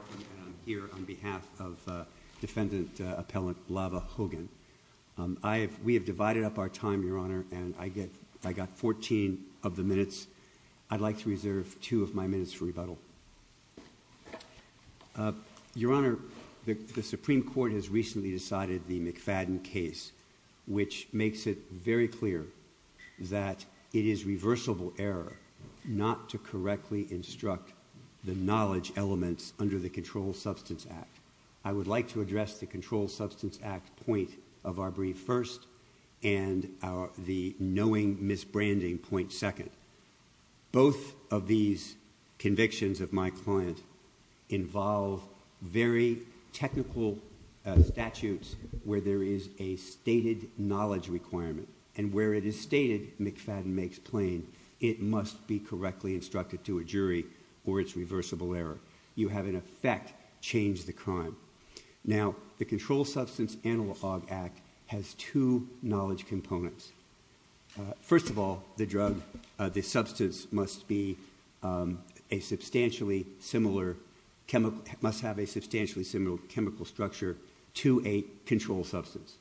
I'm here on behalf of defendant appellant Lava Hogan. We have divided up our time, Your Honor, and I got 14 of the minutes. I'd like to reserve two of my minutes for rebuttal. Your Honor, the Supreme Court has recently decided the McFadden case, which makes it very clear that it is reversible error not to correctly instruct the knowledge elements under the Controlled Substance Act. I would like to address the Controlled Substance Act point of our brief first and the knowing misbranding point second. Both of these convictions of my client involve very technical statutes where there is a stated knowledge requirement, and where it is stated McFadden makes plain it must be correctly instructed to a jury or it's reversible error. You have in effect changed the crime. Now the Controlled Substance Animal Hog Act has two knowledge components. First of all, the drug, the substance must be a substantially similar chemical, must have a substantially similar chemical structure to a control substance.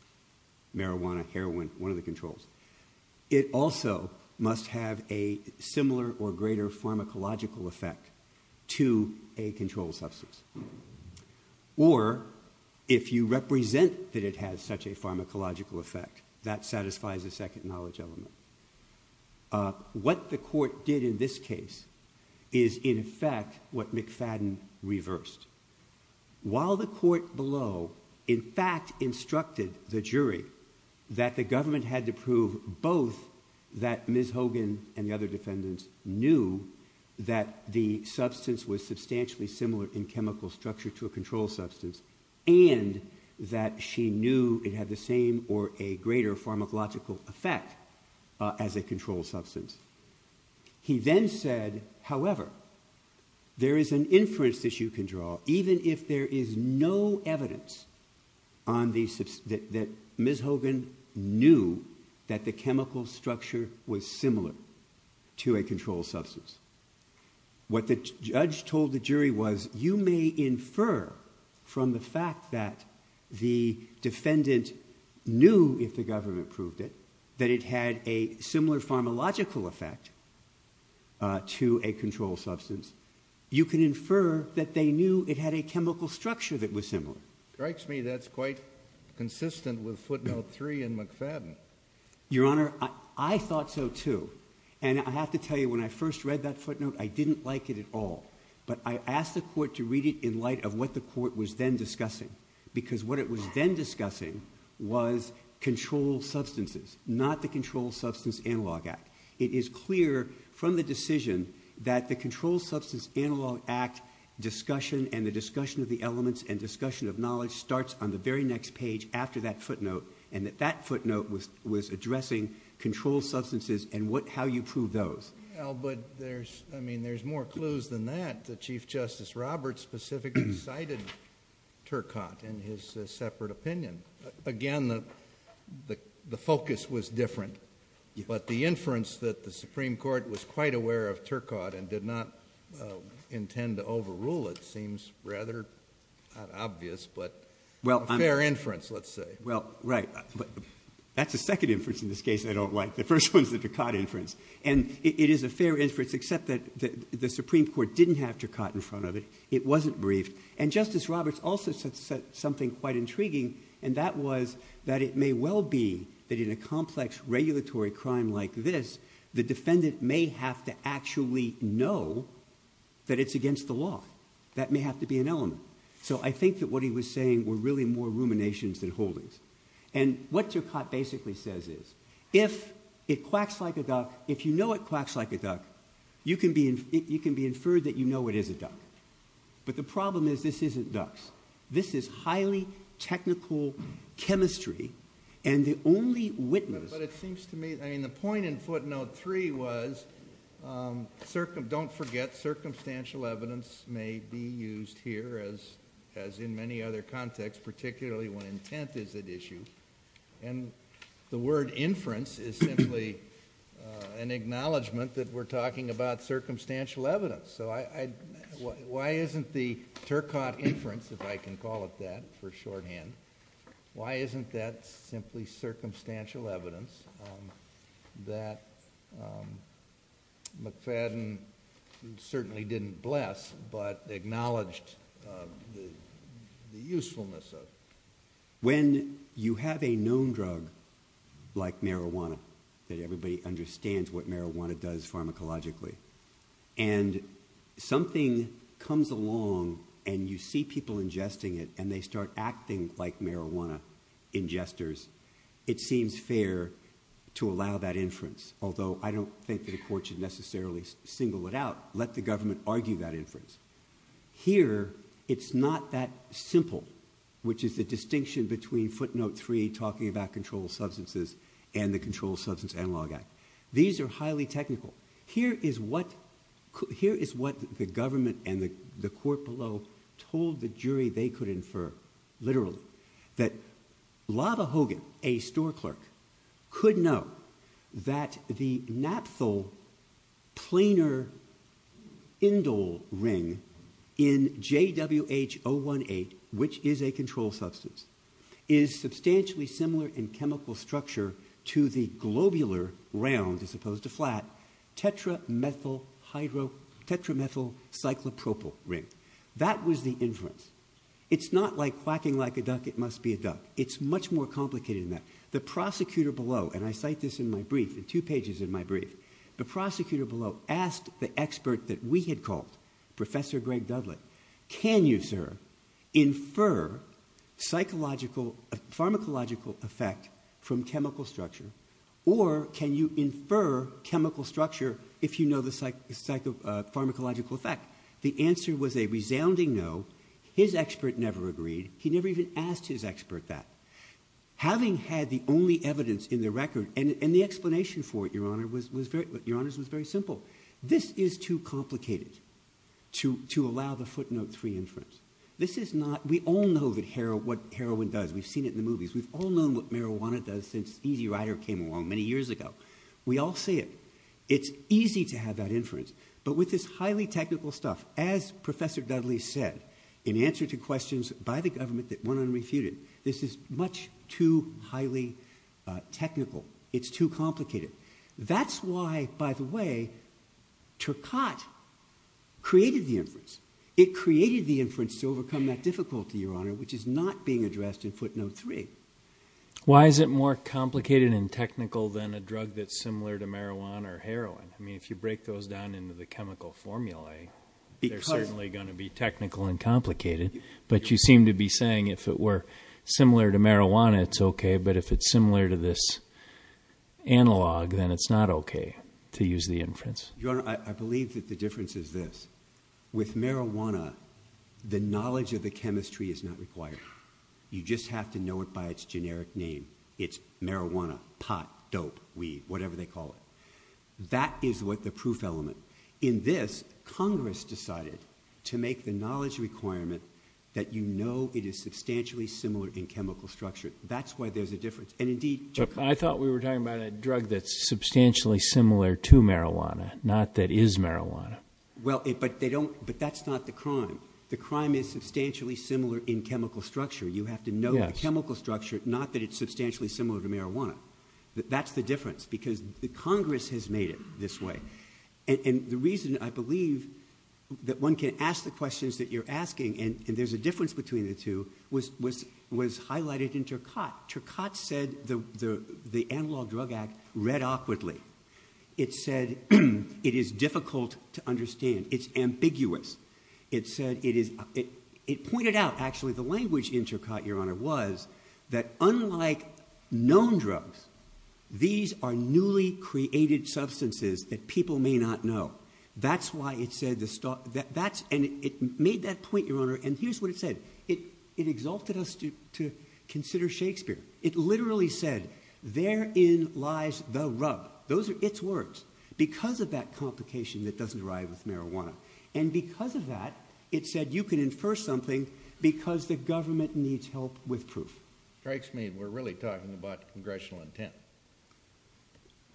Marijuana, heroin, one of the controls. It also must have a similar or greater pharmacological effect to a control substance, or if you represent that it has such a pharmacological effect, that satisfies a second knowledge element. What the court did in this case is in effect what McFadden reversed. While the court below in fact instructed the jury that the government had to prove both that Ms. Hogan and the other defendants knew that the substance was substantially similar in chemical structure to a control substance, and that she knew it had the same or a greater pharmacological effect as a control substance. He then said, however, there is an inference that you can draw even if there is no evidence on the, that Ms. Hogan knew that the chemical structure was similar to a control substance. What the judge told the jury was you may infer from the fact that the defendant knew if the to a control substance, you can infer that they knew it had a chemical structure that was similar. It strikes me that's quite consistent with footnote three in McFadden. Your Honor, I thought so too. And I have to tell you when I first read that footnote, I didn't like it at all. But I asked the court to read it in light of what the court was then discussing. Because what it was then discussing was control substances, not the Control Substance Analog Act. It is clear from the decision that the Control Substance Analog Act discussion and the discussion of the elements and discussion of knowledge starts on the very next page after that footnote, and that that footnote was addressing control substances and what, how you prove those. Well, but there's, I mean, there's more clues than that that Chief Justice Roberts specifically cited Turcotte in his separate opinion. Again, the focus was different, but the inference that the Supreme Court was quite aware of Turcotte and did not intend to overrule it seems rather, not obvious, but a fair inference, let's say. Well, right. That's the second inference in this case I don't like. The first one's the Turcotte inference. And it is a fair inference, except that the Supreme Court didn't have Turcotte in front of it. It wasn't briefed. And Justice Roberts also said something quite intriguing, and that was that it may well be that in a complex regulatory crime like this, the defendant may have to actually know that it's against the law. That may have to be an element. So I think that what he was saying were really more ruminations than holdings. And what Turcotte basically says is, if it quacks like a duck, if you know it quacks like a duck, you can be inferred that you know it is a duck. But the problem is, this isn't ducks. This is highly technical chemistry. And the only witness... But it seems to me, I mean, the point in footnote three was, don't forget, circumstantial evidence may be used here as in many other contexts, particularly when intent is at issue. And the word inference is simply an acknowledgment that we're talking about circumstantial evidence. So why isn't the Turcotte inference, if I can call it that, for shorthand, why isn't that simply circumstantial evidence that McFadden certainly didn't bless, but acknowledged the usefulness of? When you have a known drug like marijuana, that everybody understands what marijuana does pharmacologically, and something comes along and you see people ingesting it and they start acting like marijuana ingesters, it seems fair to allow that inference, although I don't think the court should necessarily single it out, let the government argue that inference. Here, it's not that simple, which is the distinction between footnote three talking about controlled substances and the Controlled Substance Analog Act. These are highly technical. Here is what the government and the court below told the jury they could infer, literally, that Lava Hogan, a store clerk, could know that the naphthol planar indole ring in JWH-018, which is a controlled substance, is substantially similar in chemical structure to the globular round, as opposed to flat, tetramethylcyclopropyl ring. That was the inference. It's not like quacking like a duck, it must be a duck. It's much more complicated than that. The prosecutor below, and I cite this in my brief, in two pages of my brief, the prosecutor below asked the expert that we had called, Professor Greg Dudlett, can you, sir, infer pharmacological effect from chemical structure, or can you infer chemical structure if you know the pharmacological effect? The answer was a resounding no. His expert never agreed. He never even asked his expert that. Having had the only evidence in the record, and the explanation for it, Your Honor, was very simple. This is too complicated to allow the footnote three inference. This is not, we all know what heroin does, we've seen it in the movies, we've all known what marijuana does since Easy Rider came along many years ago. We all see it. It's easy to have that inference, but with this highly technical stuff, as Professor Dudley said, in answer to questions by the government that went unrefuted, this is much too highly technical. It's too complicated. That's why, by the way, Turcotte created the inference. It created the inference to overcome that difficulty, Your Honor, which is not being addressed in footnote three. Why is it more complicated and technical than a drug that's similar to marijuana or heroin? I mean, if you break those down into the chemical formulae, they're certainly going to be technical and complicated, but you seem to be saying if it were similar to marijuana, it's okay, but if it's similar to this analog, then it's not okay to use the inference. Your Honor, I believe that the difference is this. With marijuana, the knowledge of the chemistry is not required. You just have to know it by its generic name. It's marijuana, pot, dope, weed, whatever they call it. That is what the proof element. In this, Congress decided to make the knowledge requirement that you know it is substantially similar in chemical structure. That's why there's a difference. And indeed, Turcotte- I thought we were talking about a drug that's substantially similar to marijuana, not that is marijuana. Well, but that's not the crime. The crime is substantially similar in chemical structure. You have to know the chemical structure, not that it's substantially similar to marijuana. That's the difference, because Congress has made it this way. And the reason, I believe, that one can ask the questions that you're asking, and there's a difference between the two, was highlighted in Turcotte. Turcotte said the Analog Drug Act read awkwardly. It said it is difficult to understand. It's ambiguous. It said it is- it pointed out, actually, the language in Turcotte, Your Honor, was that unlike known drugs, these are newly created substances that people may not know. That's why it said the- and it made that point, Your Honor, and here's what it said. It exalted us to consider Shakespeare. It literally said, therein lies the rub. Those are its words, because of that complication that doesn't arrive with marijuana. And because of that, it said you can infer something because the government needs help with proof. Strikes me we're really talking about congressional intent.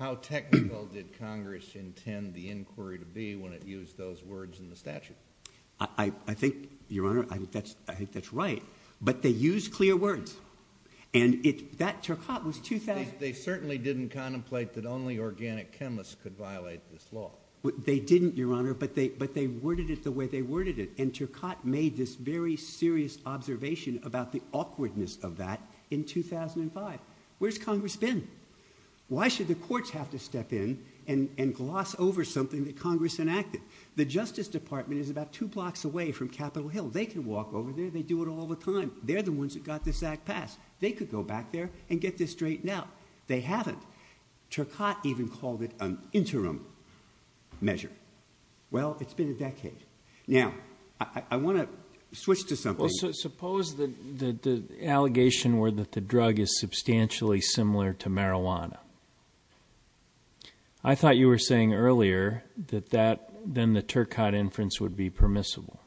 How technical did Congress intend the inquiry to be when it used those words in the statute? I think, Your Honor, I think that's right. But they used clear words, and it- that Turcotte was- They certainly didn't contemplate that only organic chemists could violate this law. They didn't, Your Honor, but they worded it the way they worded it, and Turcotte made this very serious observation about the awkwardness of that in 2005. Where's Congress been? Why should the courts have to step in and gloss over something that Congress enacted? The Justice Department is about two blocks away from Capitol Hill. They can walk over there. They do it all the time. They're the ones that got this act passed. They could go back there and get this straightened out. They haven't. Turcotte even called it an interim measure. Well, it's been a decade. Now, I want to switch to something- The allegation were that the drug is substantially similar to marijuana. I thought you were saying earlier that that- then the Turcotte inference would be permissible.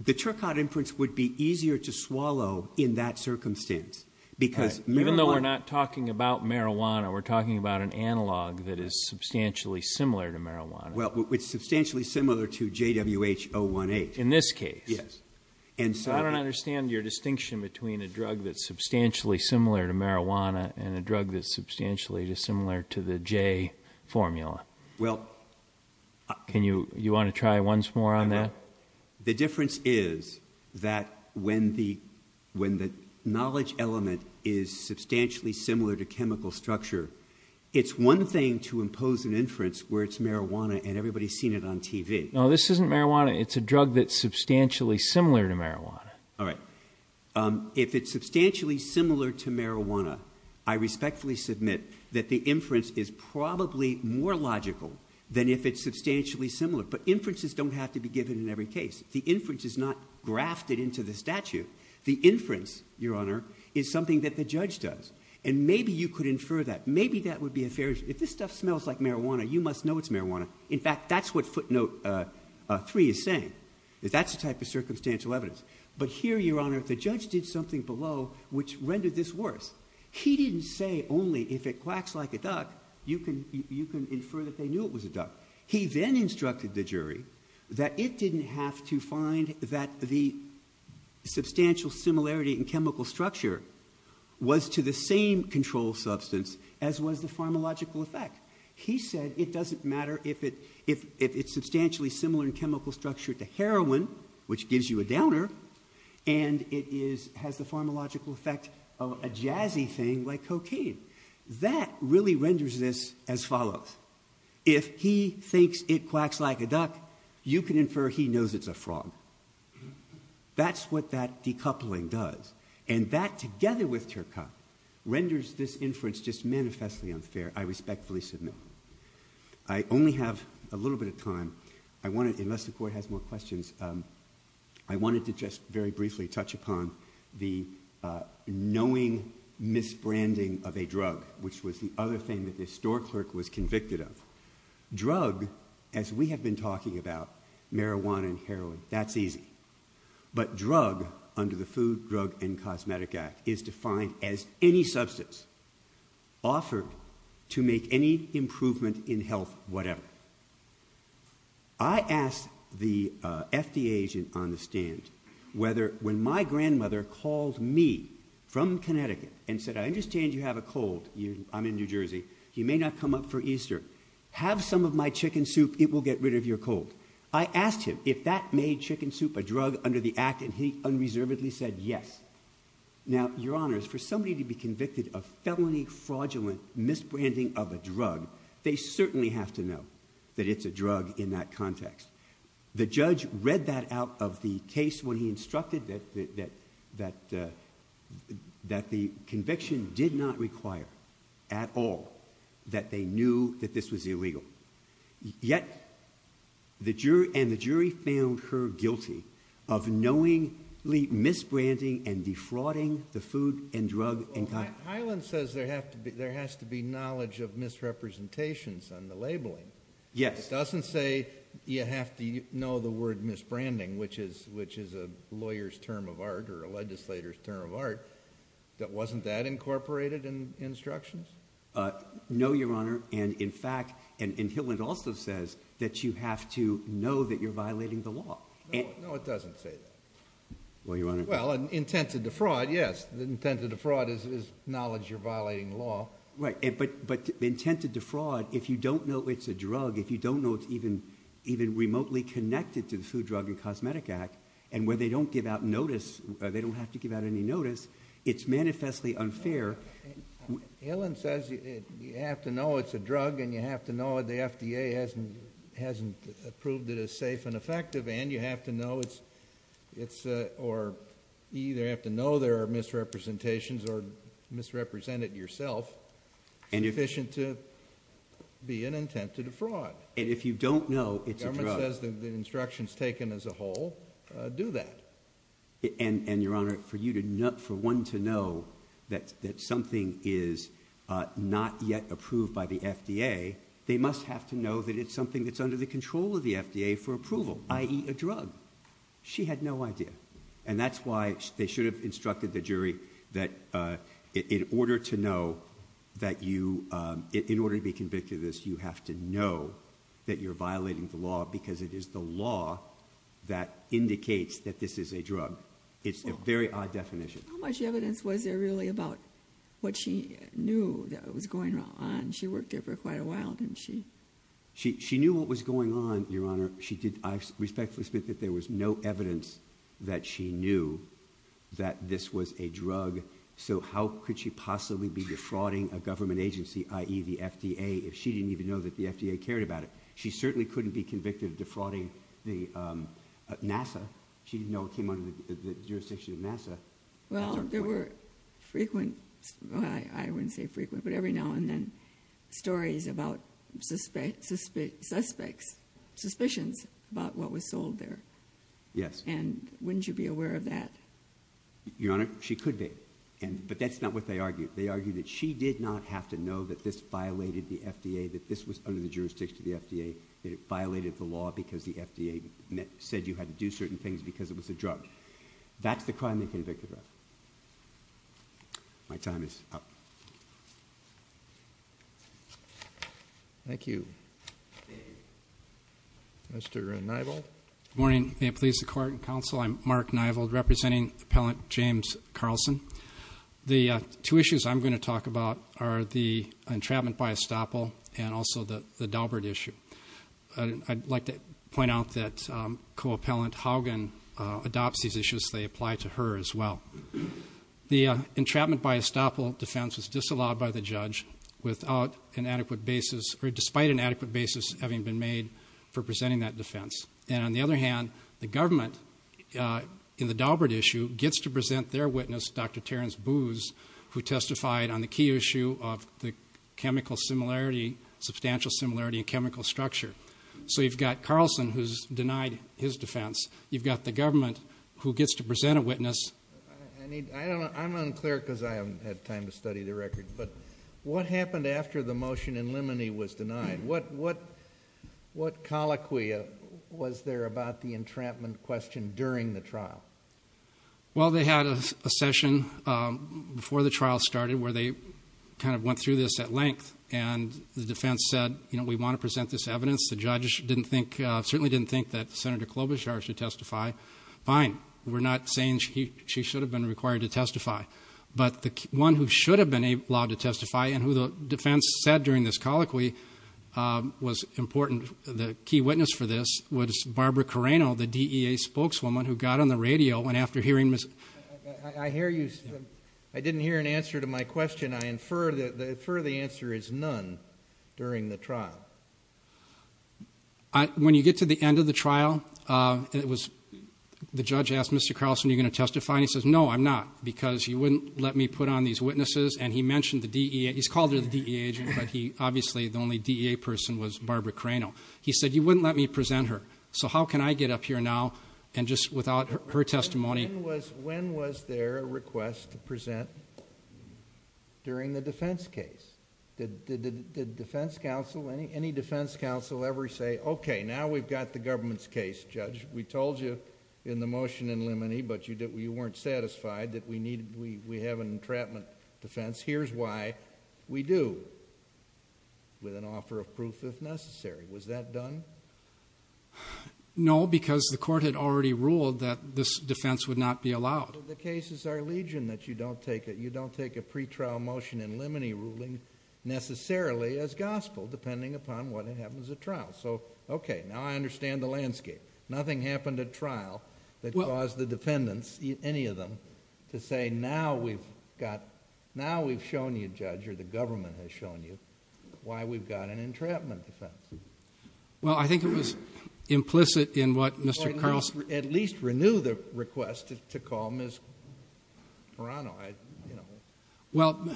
The Turcotte inference would be easier to swallow in that circumstance because- Even though we're not talking about marijuana, we're talking about an analog that is substantially similar to marijuana. Well, it's substantially similar to JWH-018. In this case? Yes. I don't understand your distinction between a drug that's substantially similar to marijuana and a drug that's substantially similar to the J formula. You want to try once more on that? The difference is that when the knowledge element is substantially similar to chemical structure, it's one thing to impose an inference where it's marijuana and everybody's seen it on TV. No, this isn't marijuana. It's a drug that's substantially similar to marijuana. All right. If it's substantially similar to marijuana, I respectfully submit that the inference is probably more logical than if it's substantially similar, but inferences don't have to be given in every case. The inference is not grafted into the statute. The inference, Your Honor, is something that the judge does. Maybe you could infer that. Maybe that would be a fair- If this stuff smells like marijuana, you must know it's marijuana. In fact, that's what footnote three is saying, that that's the type of circumstantial evidence. But here, Your Honor, the judge did something below which rendered this worse. He didn't say only if it quacks like a duck, you can infer that they knew it was a duck. He then instructed the jury that it didn't have to find that the substantial similarity in chemical structure was to the same control substance as was the pharmacological effect. He said it doesn't matter if it's substantially similar in chemical structure to heroin, which gives you a downer, and it has the pharmacological effect of a jazzy thing like cocaine. That really renders this as follows. If he thinks it quacks like a duck, you can infer he knows it's a frog. That's what that decoupling does. And that, together with Turka, renders this inference just manifestly unfair. I respectfully submit. I only have a little bit of time. I wanted, unless the court has more questions, I wanted to just very briefly touch upon the knowing misbranding of a drug, which was the other thing that the store clerk was convicted of. Drug, as we have been talking about, marijuana and heroin, that's easy. But drug, under the Food, Drug, and Cosmetic Act, is defined as any substance offered to make any improvement in health whatever. I asked the FDA agent on the stand whether, when my grandmother called me from Connecticut and said, I understand you have a cold, I'm in New Jersey, you may not come up for Easter, have some of my chicken soup, it will get rid of your cold. I asked him if that made chicken soup a drug under the act, and he unreservedly said yes. Now, your honors, for somebody to be convicted of felony fraudulent misbranding of a drug, they certainly have to know that it's a drug in that context. The judge read that out of the case when he instructed that the conviction did not require at all that they knew that this was illegal. Yet, and the jury found her guilty of knowingly misbranding and defrauding the food and drug... Well, Hyland says there has to be knowledge of misrepresentations on the labeling. Yes. It doesn't say you have to know the word misbranding, which is a lawyer's term of art or a legislator's term of art, that wasn't that incorporated in instructions? No, your honor, and in fact, and Hyland also says that you have to know that you're violating the law. No, it doesn't say that. Well, your honor... Well, intent to defraud, yes, the intent to defraud is knowledge you're violating the law. Right, but intent to defraud, if you don't know it's a drug, if you don't know it's even remotely connected to the Food, Drug, and Cosmetic Act, and where they don't give out notice, they don't have to give out any notice, it's manifestly unfair. Hyland says you have to know it's a drug, and you have to know the FDA hasn't approved it as safe and effective, and you have to know it's, or you either have to know there are misrepresentations or misrepresent it yourself, sufficient to be an intent to defraud. And if you don't know it's a drug... The government says the instructions taken as a whole do that. And, your honor, for one to know that something is not yet approved by the FDA, they must have to know that it's something that's under the control of the FDA for approval, i.e. a drug. She had no idea. And that's why they should have instructed the jury that in order to know that you, in order to be convicted of this, you have to know that you're violating the law because it is the law that indicates that this is a drug. It's a very odd definition. How much evidence was there really about what she knew that was going on? She worked there for quite a while, didn't she? She knew what was going on, your honor. I respectfully submit that there was no evidence that she knew that this was a drug. So how could she possibly be defrauding a government agency, i.e. the FDA, if she didn't even know that the FDA cared about it? She certainly couldn't be convicted of defrauding NASA. She didn't know it came under the jurisdiction of NASA. Well, there were frequent... I wouldn't say frequent, but every now and then... stories about suspects... suspicions about what was sold there. Yes. And wouldn't you be aware of that? Your honor, she could be. But that's not what they argued. They argued that she did not have to know that this violated the FDA, that this was under the jurisdiction of the FDA, that it violated the law because the FDA said you had to do certain things because it was a drug. That's the crime they convicted her of. My time is up. Thank you. Mr. Nivald? Good morning. May it please the Court and Counsel, I'm Mark Nivald, representing Appellant James Carlson. The two issues I'm going to talk about are the entrapment by estoppel and also the Daubert issue. I'd like to point out that Co-Appellant Haugen adopts these issues. They apply to her as well. The entrapment by estoppel defense was disallowed by the judge without an adequate basis... or despite an adequate basis having been made for presenting that defense. And, on the other hand, the government in the Daubert issue gets to present their witness, Dr. Terrence Booz, who testified on the key issue of the chemical similarity, substantial similarity in chemical structure. So, you've got Carlson, who's denied his defense. You've got the government, who gets to present a witness. I'm unclear because I haven't had time to study the record. But, what happened after the motion in Limoney was denied? What colloquy was there about the entrapment question during the trial? Well, they had a session before the trial started where they kind of went through this at length. And, the defense said, you know, we want to present this evidence. The judges certainly didn't think that Senator Klobuchar should testify. Fine. We're not saying she should have been required to testify. But, the one who should have been allowed to testify and who the defense said during this colloquy was important, the key witness for this was Barbara Carreno, the DEA spokeswoman, who got on the radio and after hearing Ms.... I hear you. I didn't hear an answer to my question. I infer the answer is none during the trial. When you get to the end of the trial, the judge asked Mr. Carlson, are you going to testify? And, he says, no, I'm not because you wouldn't let me put on these witnesses. And, he mentioned the DEA... he's called her the DEA agent, but he... obviously, the only DEA person was Barbara Carreno. He said, you wouldn't let me present her. So, how can I get up here now and just without her testimony... When was there a request to present during the defense case? Did the defense counsel, any defense counsel ever say, okay, now we've got the government's case, judge. We told you in the motion in limine, but you weren't satisfied that we need... we have an entrapment defense. Here's why we do, with an offer of proof if necessary. Was that done? No, because the court had already ruled that this defense would not be allowed. But, the case is our legion that you don't take a pre-trial motion in limine ruling necessarily as gospel, depending upon what happens at trial. So, okay, now I understand the landscape. Nothing happened at trial that caused the defendants, any of them, to say, now we've got... now we've shown you, judge, or the government has shown you, why we've got an entrapment defense. Well, I think it was implicit in what Mr. Carlson... Or at least renew the request to call Ms. Carreno. Well,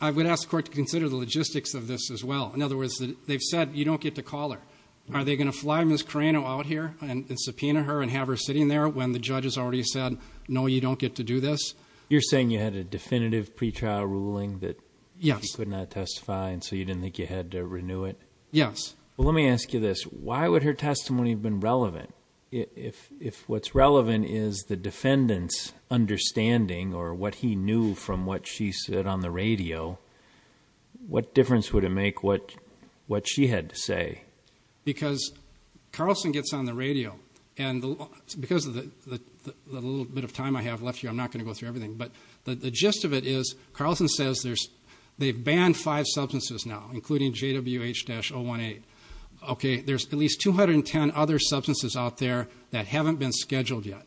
I would ask the court to consider the logistics of this as well. In other words, they've said you don't get to call her. Are they going to fly Ms. Carreno out here and subpoena her and have her sitting there when the judge has already said, no, you don't get to do this? You're saying you had a definitive pre-trial ruling that she could not testify, and so you didn't think you had to renew it? Yes. Well, let me ask you this. Why would her testimony have been relevant? If what's relevant is the defendant's understanding or what he knew from what she said on the radio, what difference would it make what she had to say? Because Carlson gets on the radio, and because of the little bit of time I have left here, I'm not going to go through everything. But the gist of it is Carlson says they've banned five substances now, including JWH-018. Okay, there's at least 210 other substances out there that haven't been scheduled yet.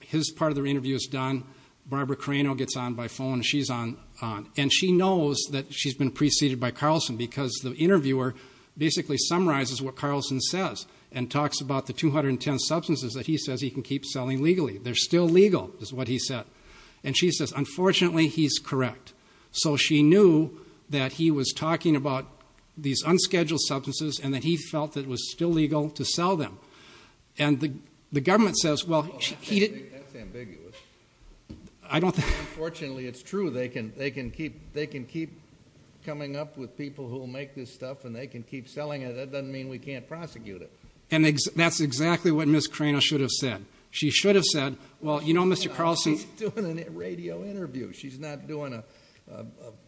His part of the interview is done. Barbara Carreno gets on by phone. She's on, and she knows that she's been preceded by Carlson because the interviewer basically summarizes what Carlson says and talks about the 210 substances that he says he can keep selling legally. They're still legal, is what he said. And she says, unfortunately, he's correct. So she knew that he was talking about these unscheduled substances and that he felt it was still legal to sell them. And the government says, well, he didn't. That's ambiguous. Unfortunately, it's true. They can keep coming up with people who make this stuff, and they can keep selling it. That doesn't mean we can't prosecute it. And that's exactly what Ms. Carreno should have said. She should have said, well, you know, Mr. Carlson's doing a radio interview. She's not doing a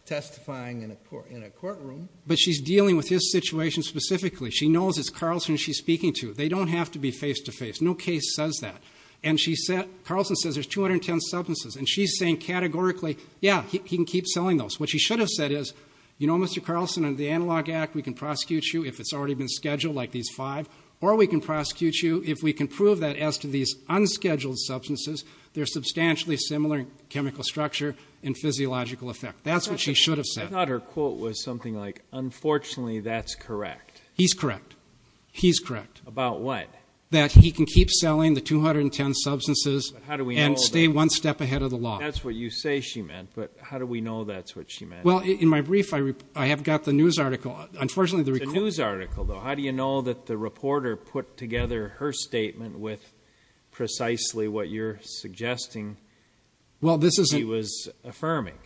testifying in a courtroom. But she's dealing with his situation specifically. She knows it's Carlson she's speaking to. They don't have to be face-to-face. No case says that. Carlson says there's 210 substances. And she's saying categorically, yeah, he can keep selling those. What she should have said is, you know, Mr. Carlson, under the Analog Act, we can prosecute you if it's already been scheduled, like these five, or we can prosecute you if we can prove that as to these unscheduled substances, they're substantially similar in chemical structure and physiological effect. That's what she should have said. I thought her quote was something like, unfortunately, that's correct. He's correct. He's correct. About what? That he can keep selling the 210 substances and stay one step ahead of the law. That's what you say she meant. But how do we know that's what she meant? Well, in my brief, I have got the news article. It's a news article, though. How do you know that the reporter put together her statement with precisely what you're suggesting she was affirming?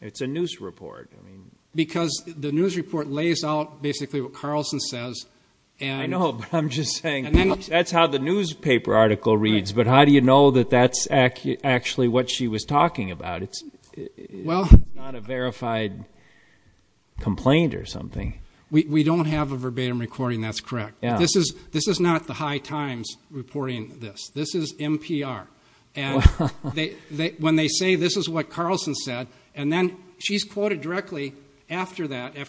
It's a news report. Because the news report lays out basically what Carlson says. I know. But I'm just saying, that's how the newspaper article reads. But how do you know that that's actually what she was talking about? It's not a verified complaint or something. We don't have a verbatim recording. That's correct. This is not the High Times reporting this. This is NPR. And when they say this is what Carlson said, and then she's quoted directly after that, as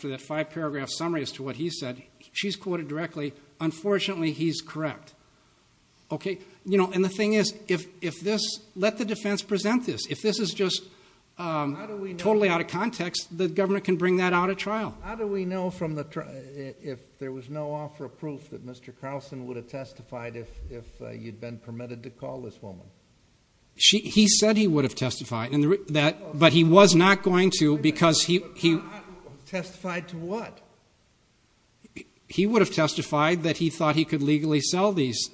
to what he said, she's quoted directly, unfortunately he's correct. And the thing is, let the defense present this. If this is just totally out of context, the government can bring that out at trial. How do we know if there was no offer of proof that Mr. Carlson would have testified if you'd been permitted to call this woman? He said he would have testified. But he was not going to because he. Testified to what? He would have testified that he thought he could legally sell these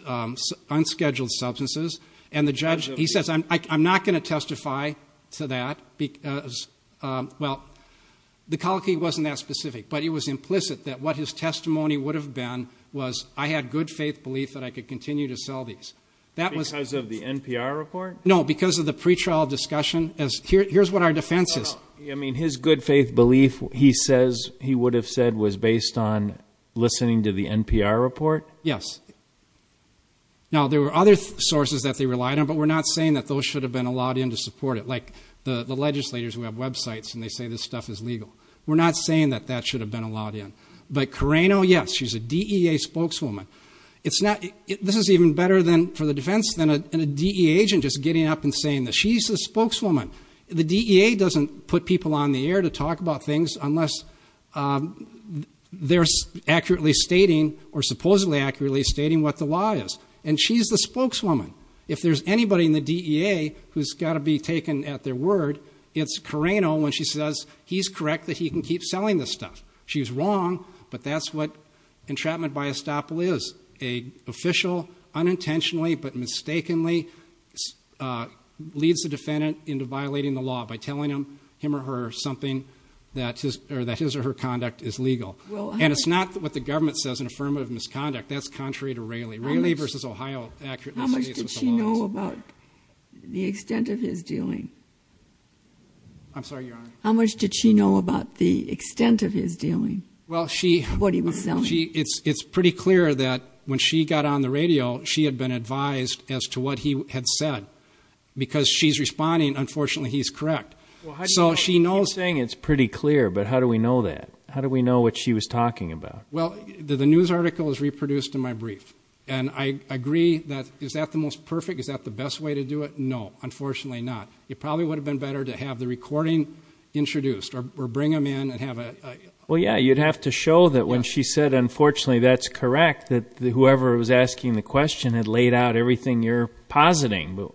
unscheduled substances. And the judge, he says, I'm not going to testify to that. Well, the colloquy wasn't that specific. But it was implicit that what his testimony would have been was, I had good faith belief that I could continue to sell these. Because of the NPR report? No, because of the pretrial discussion. Here's what our defense is. I mean, his good faith belief, he says he would have said was based on listening to the NPR report? Yes. Now, there were other sources that they relied on, but we're not saying that those should have been allowed in to support it. Like the legislators who have websites and they say this stuff is legal. We're not saying that that should have been allowed in. But Carreno, yes, she's a DEA spokeswoman. This is even better for the defense than a DEA agent just getting up and saying this. She's the spokeswoman. The DEA doesn't put people on the air to talk about things unless they're accurately stating or supposedly accurately stating what the law is. And she's the spokeswoman. If there's anybody in the DEA who's got to be taken at their word, it's Carreno when she says he's correct that he can keep selling this stuff. She's wrong, but that's what entrapment by estoppel is. An official unintentionally but mistakenly leads the defendant into violating the law by telling him or her something that his or her conduct is legal. And it's not what the government says in affirmative misconduct. That's contrary to Railey. Railey v. Ohio accurately states what the law is. How much did she know about the extent of his dealing? I'm sorry, Your Honor. How much did she know about the extent of his dealing, what he was selling? It's pretty clear that when she got on the radio, she had been advised as to what he had said. Because she's responding, unfortunately he's correct. So she knows. You're saying it's pretty clear, but how do we know that? How do we know what she was talking about? Well, the news article is reproduced in my brief. And I agree that is that the most perfect, is that the best way to do it? No, unfortunately not. It probably would have been better to have the recording introduced or bring him in and have a... Well, yeah, you'd have to show that when she said, unfortunately that's correct, that whoever was asking the question had laid out everything you're positing.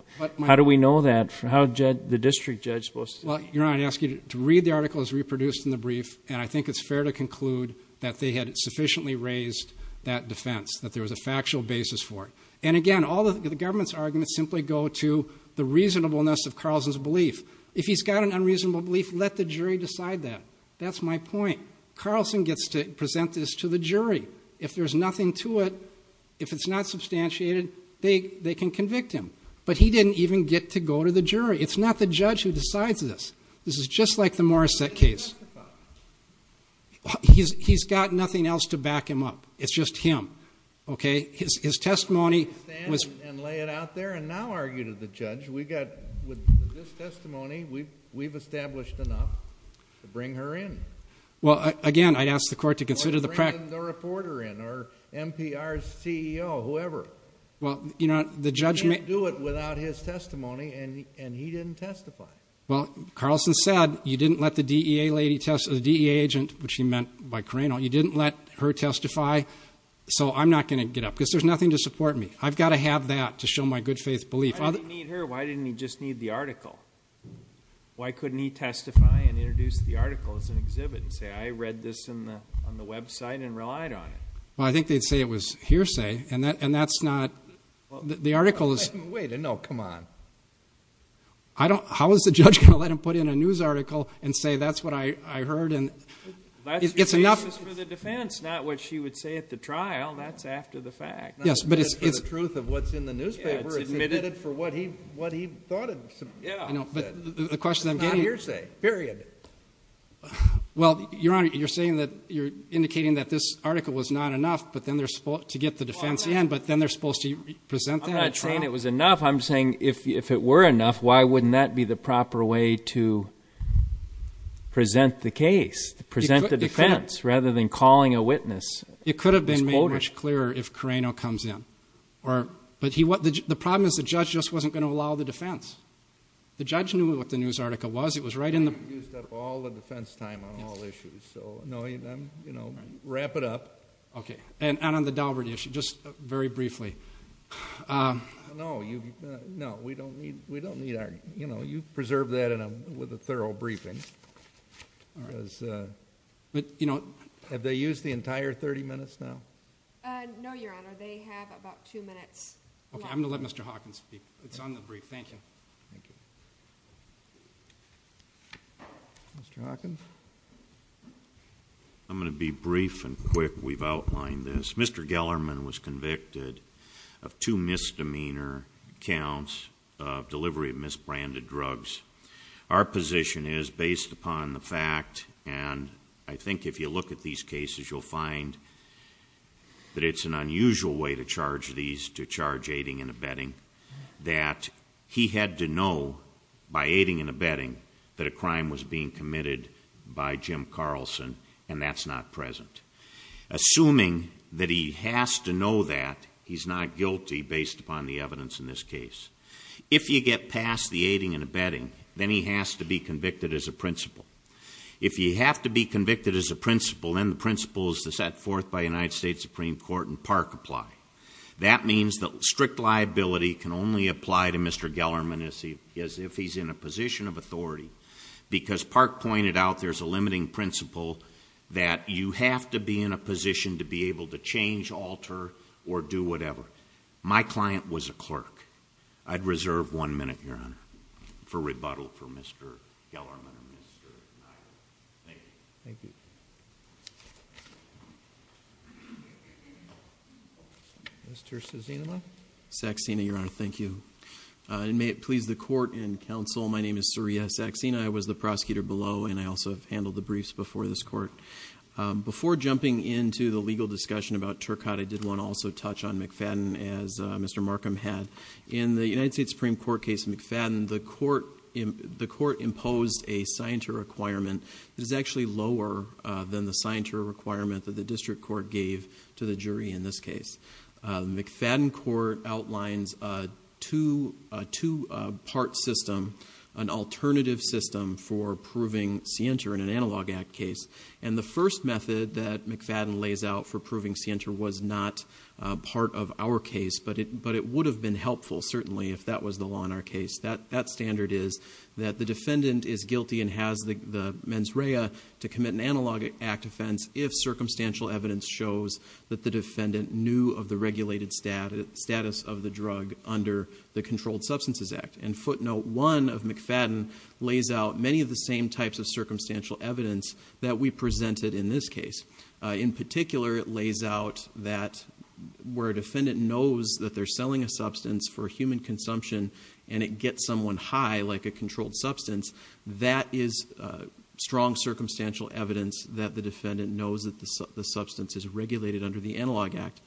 How do we know that? How is the district judge supposed to... Well, Your Honor, I'd ask you to read the article. It's reproduced in the brief. And I think it's fair to conclude that they had sufficiently raised that defense, that there was a factual basis for it. And again, all of the government's arguments simply go to the reasonableness of Carlson's belief. If he's got an unreasonable belief, let the jury decide that. That's my point. Carlson gets to present this to the jury. If there's nothing to it, if it's not substantiated, they can convict him. But he didn't even get to go to the jury. It's not the judge who decides this. This is just like the Morrissette case. He's got nothing else to back him up. It's just him. His testimony was...... and lay it out there and now argue to the judge. With this testimony, we've established enough to bring her in. Well, again, I'd ask the court to consider the... Or to bring the reporter in or MPR's CEO, whoever. Well, Your Honor, the judge... You can't do it without his testimony, and he didn't testify. Well, Carlson said you didn't let the DEA agent, which he meant by Crano, you didn't let her testify. So I'm not going to get up, because there's nothing to support me. I've got to have that to show my good faith belief. Why didn't he need her? Why didn't he just need the article? Why couldn't he testify and introduce the article as an exhibit and say, I read this on the website and relied on it? Well, I think they'd say it was hearsay. And that's not... Well... The article is... Wait a minute. No, come on. I don't... How is the judge going to let him put in a news article and say, that's what I heard and... It's enough... That's for the defense, not what she would say at the trial. That's after the fact. Yes, but it's... It's for the truth of what's in the newspaper. It's admitted for what he thought it... Yeah. But the question I'm getting... It's not hearsay, period. Well, Your Honor, you're saying that... you're indicating that this article was not enough to get the defense in, but then they're supposed to present that at trial? I'm not saying it was enough. I'm saying if it were enough, why wouldn't that be the proper way to present the case, present the defense, rather than calling a witness? It could have been made much clearer if Carreno comes in. But the problem is the judge just wasn't going to allow the defense. The judge knew what the news article was. It was right in the... It was used up all the defense time on all issues. So, no, wrap it up. Okay. And on the Dalbert issue, just very briefly. No, we don't need... You preserved that with a thorough briefing. But, you know, have they used the entire 30 minutes now? No, Your Honor. They have about two minutes left. Okay. I'm going to let Mr. Hawkins speak. It's on the brief. Thank you. Thank you. Mr. Hawkins? I'm going to be brief and quick. We've outlined this. Mr. Gellarman was convicted of two misdemeanor counts of delivery of misbranded drugs. Our position is, based upon the fact, and I think if you look at these cases, you'll find that it's an unusual way to charge these, to charge aiding and abetting, that he had to know by aiding and abetting that a crime was being committed by Jim Carlson, and that's not present. Assuming that he has to know that, he's not guilty based upon the evidence in this case. If you get past the aiding and abetting, then he has to be convicted as a principal. If you have to be convicted as a principal, then the principles set forth by the United States Supreme Court and Park apply. That means that strict liability can only apply to Mr. Gellarman as if he's in a position of authority because Park pointed out there's a limiting principle that you have to be in a position to be able to change, alter, or do whatever. My client was a clerk. I'd reserve one minute, Your Honor, for rebuttal for Mr. Gellarman and Mr. Nye. Thank you. Thank you. Mr. Sazenema? Saxena, Your Honor, thank you. And may it please the Court and counsel, my name is Surya Saxena. I was the prosecutor below, and I also handled the briefs before this Court. Before jumping into the legal discussion about Turcotte, I did want to also touch on McFadden as Mr. Markham had. In the United States Supreme Court case McFadden, the Court imposed a scienter requirement that is actually lower than the scienter requirement that the district court gave to the jury in this case. The McFadden Court outlines a two-part system, an alternative system for proving scienter in an Analog Act case, and the first method that McFadden lays out for proving scienter was not part of our case, but it would have been helpful certainly if that was the law in our case. That standard is that the defendant is guilty and has the mens rea to commit an Analog Act offense if circumstantial evidence shows that the defendant knew of the regulated status of the drug under the Controlled Substances Act. And footnote one of McFadden lays out many of the same types of circumstantial evidence that we presented in this case. In particular, it lays out that where a defendant knows that they're selling a substance for human consumption and it gets someone high like a controlled substance, that is strong circumstantial evidence that the defendant knows that the substance is regulated under the Analog Act.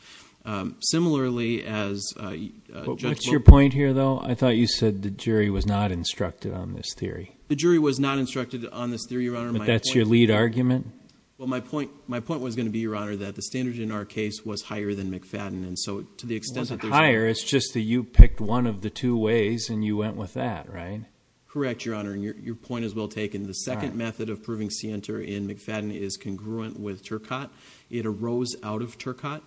Similarly, as Judge Lowe... What's your point here though? I thought you said the jury was not instructed on this theory. The jury was not instructed on this theory, Your Honor. But that's your lead argument? Well, my point was going to be, Your Honor, that the standard in our case was higher than McFadden. And so to the extent that there's... It wasn't higher. It's just that you picked one of the two ways and you went with that, right? Correct, Your Honor. And your point is well taken. The second method of proving scienter in McFadden is congruent with Turcotte. It arose out of Turcotte.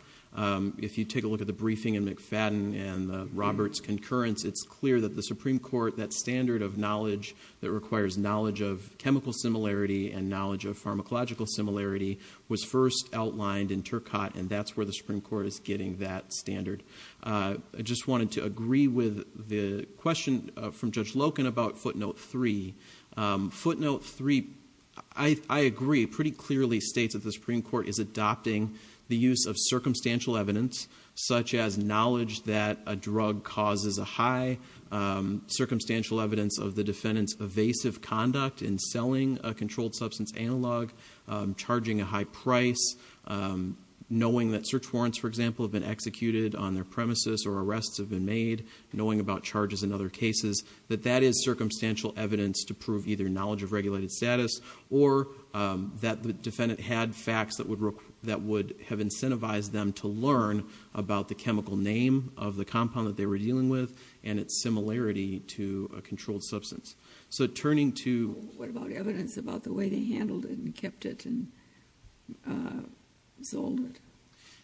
If you take a look at the briefing in McFadden and Robert's concurrence, it's clear that the Supreme Court, that standard of knowledge that requires knowledge of chemical similarity and knowledge of pharmacological similarity was first outlined in Turcotte, and that's where the Supreme Court is getting that standard. I just wanted to agree with the question from Judge Loken about Footnote 3. Footnote 3, I agree, pretty clearly states that the Supreme Court is adopting the use of circumstantial evidence, such as knowledge that a drug causes a high, circumstantial evidence of the defendant's evasive conduct in selling a controlled substance analog, charging a high price, knowing that search warrants, for example, have been executed on their premises or arrests have been made, knowing about charges in other cases, that that is circumstantial evidence to prove either knowledge of regulated status or that the defendant had facts that would have incentivized them to learn about the chemical name of the compound that they were dealing with and its similarity to a controlled substance. So turning to... What about evidence about the way they handled it and kept it and sold it?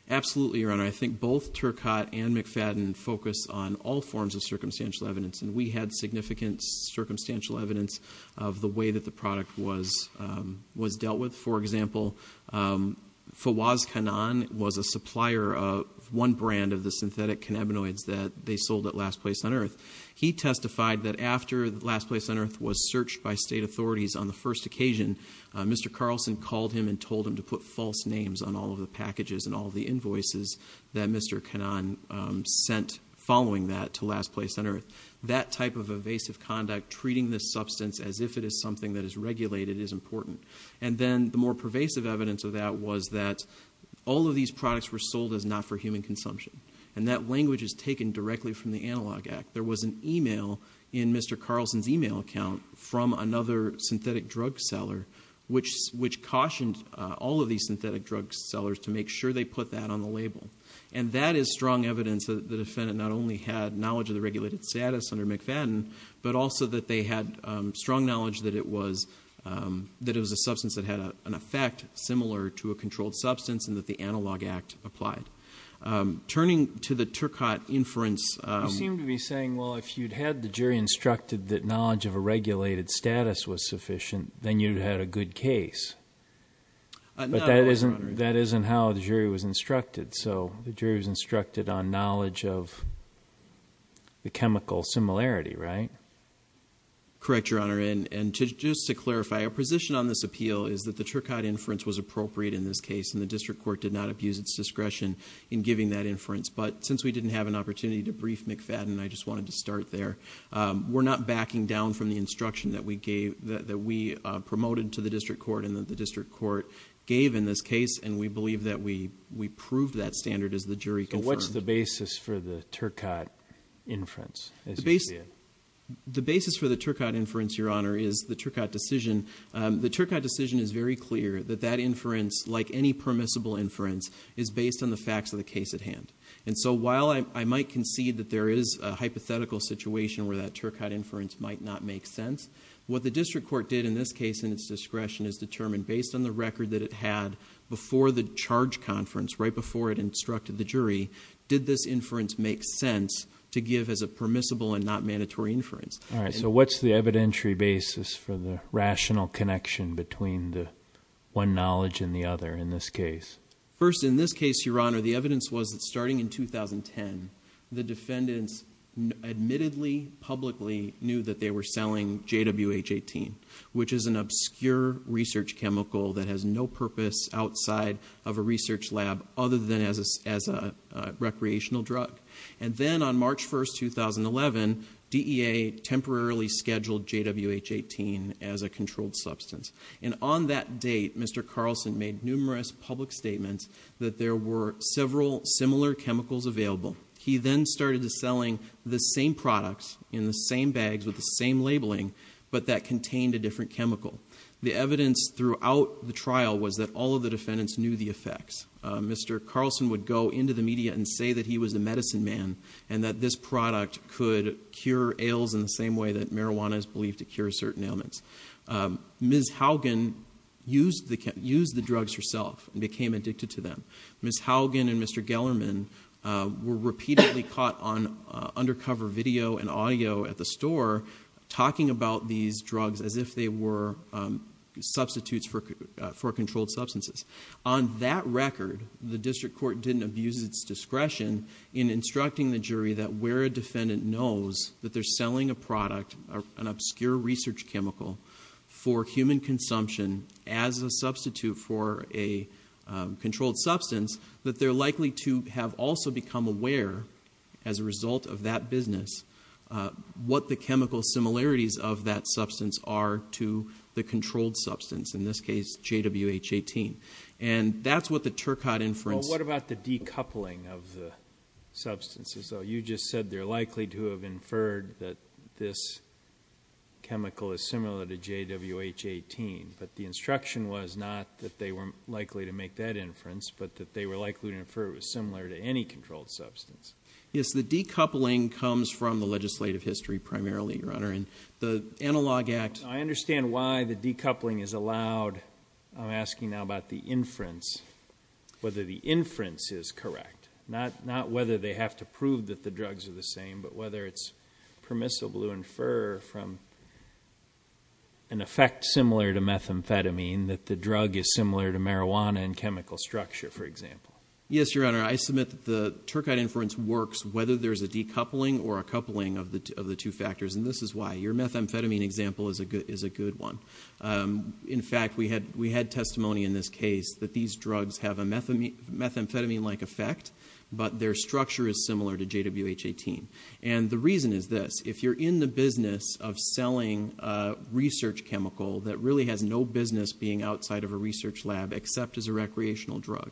Absolutely, Your Honor. I think both Turcotte and McFadden focus on all forms of circumstantial evidence, and we had significant circumstantial evidence of the way that the product was dealt with. For example, Fawaz Khanan was a supplier of one brand of the synthetic cannabinoids that they sold at Last Place on Earth. He testified that after Last Place on Earth was searched by state authorities on the first occasion, Mr. Carlson called him and told him to put false names on all of the packages and all of the invoices that Mr. Khanan sent following that to Last Place on Earth. That type of evasive conduct, treating this substance as if it is something that is regulated, is important. And then the more pervasive evidence of that was that all of these products were sold as not for human consumption, and that language is taken directly from the Analog Act. There was an email in Mr. Carlson's email account from another synthetic drug seller which cautioned all of these synthetic drug sellers to make sure they put that on the label. And that is strong evidence that the defendant not only had knowledge of the regulated status under McFadden, but also that they had strong knowledge that it was a substance that had an effect similar to a controlled substance and that the Analog Act applied. Turning to the Turcotte inference... You seem to be saying, well, if you'd had the jury instructed that knowledge of a regulated status was sufficient, then you'd have had a good case. But that isn't how the jury was instructed. So the jury was instructed on knowledge of the chemical similarity, right? Correct, Your Honor. And just to clarify, our position on this appeal is that the Turcotte inference was appropriate in this case, and the district court did not abuse its discretion in giving that inference. But since we didn't have an opportunity to brief McFadden, I just wanted to start there. We're not backing down from the instruction that we promoted to the district court and that the district court gave in this case, and we believe that we proved that standard as the jury confirmed. So what's the basis for the Turcotte inference? The basis for the Turcotte inference, Your Honor, is the Turcotte decision. The Turcotte decision is very clear that that inference, like any permissible inference, is based on the facts of the case at hand. And so while I might concede that there is a hypothetical situation where that Turcotte inference might not make sense, what the district court did in this case, in its discretion, is determine based on the record that it had before the charge conference, right before it instructed the jury, did this inference make sense to give as a permissible and not mandatory inference. All right, so what's the evidentiary basis for the rational connection between the one knowledge and the other in this case? First, in this case, Your Honor, the evidence was that starting in 2010, the defendants admittedly publicly knew that they were selling JWH-18, which is an obscure research chemical that has no purpose outside of a research lab other than as a recreational drug. And then on March 1, 2011, DEA temporarily scheduled JWH-18 as a controlled substance. And on that date, Mr. Carlson made numerous public statements that there were several similar chemicals available. He then started selling the same products in the same bags with the same labeling, but that contained a different chemical. The evidence throughout the trial was that all of the defendants knew the effects. Mr. Carlson would go into the media and say that he was a medicine man and that this product could cure ails in the same way that marijuana is believed to cure certain ailments. Ms. Haugen used the drugs herself and became addicted to them. Ms. Haugen and Mr. Gellerman were repeatedly caught on undercover video and audio at the store talking about these drugs as if they were substitutes for controlled substances. On that record, the district court didn't abuse its discretion in instructing the jury that where a defendant knows that they're selling a product, an obscure research chemical, for human consumption as a substitute for a controlled substance, that they're likely to have also become aware as a result of that business what the chemical similarities of that substance are to the controlled substance, in this case JWH-18. And that's what the Turcotte inference... Well, what about the decoupling of the substances? You just said they're likely to have inferred that this chemical is similar to JWH-18, but the instruction was not that they were likely to make that inference, but that they were likely to infer it was similar to any controlled substance. Yes, the decoupling comes from the legislative history primarily, Your Honor, and the Analog Act... I understand why the decoupling is allowed. I'm asking now about the inference, whether the inference is correct, not whether they have to prove that the drugs are the same, but whether it's permissible to infer from an effect similar to methamphetamine that the drug is similar to marijuana in chemical structure, for example. Yes, Your Honor, I submit that the Turcotte inference works whether there's a decoupling or a coupling of the two factors, and this is why your methamphetamine example is a good one. In fact, we had testimony in this case that these drugs have a methamphetamine-like effect, but their structure is similar to JWH-18. And the reason is this. If you're in the business of selling a research chemical that really has no business being outside of a research lab except as a recreational drug,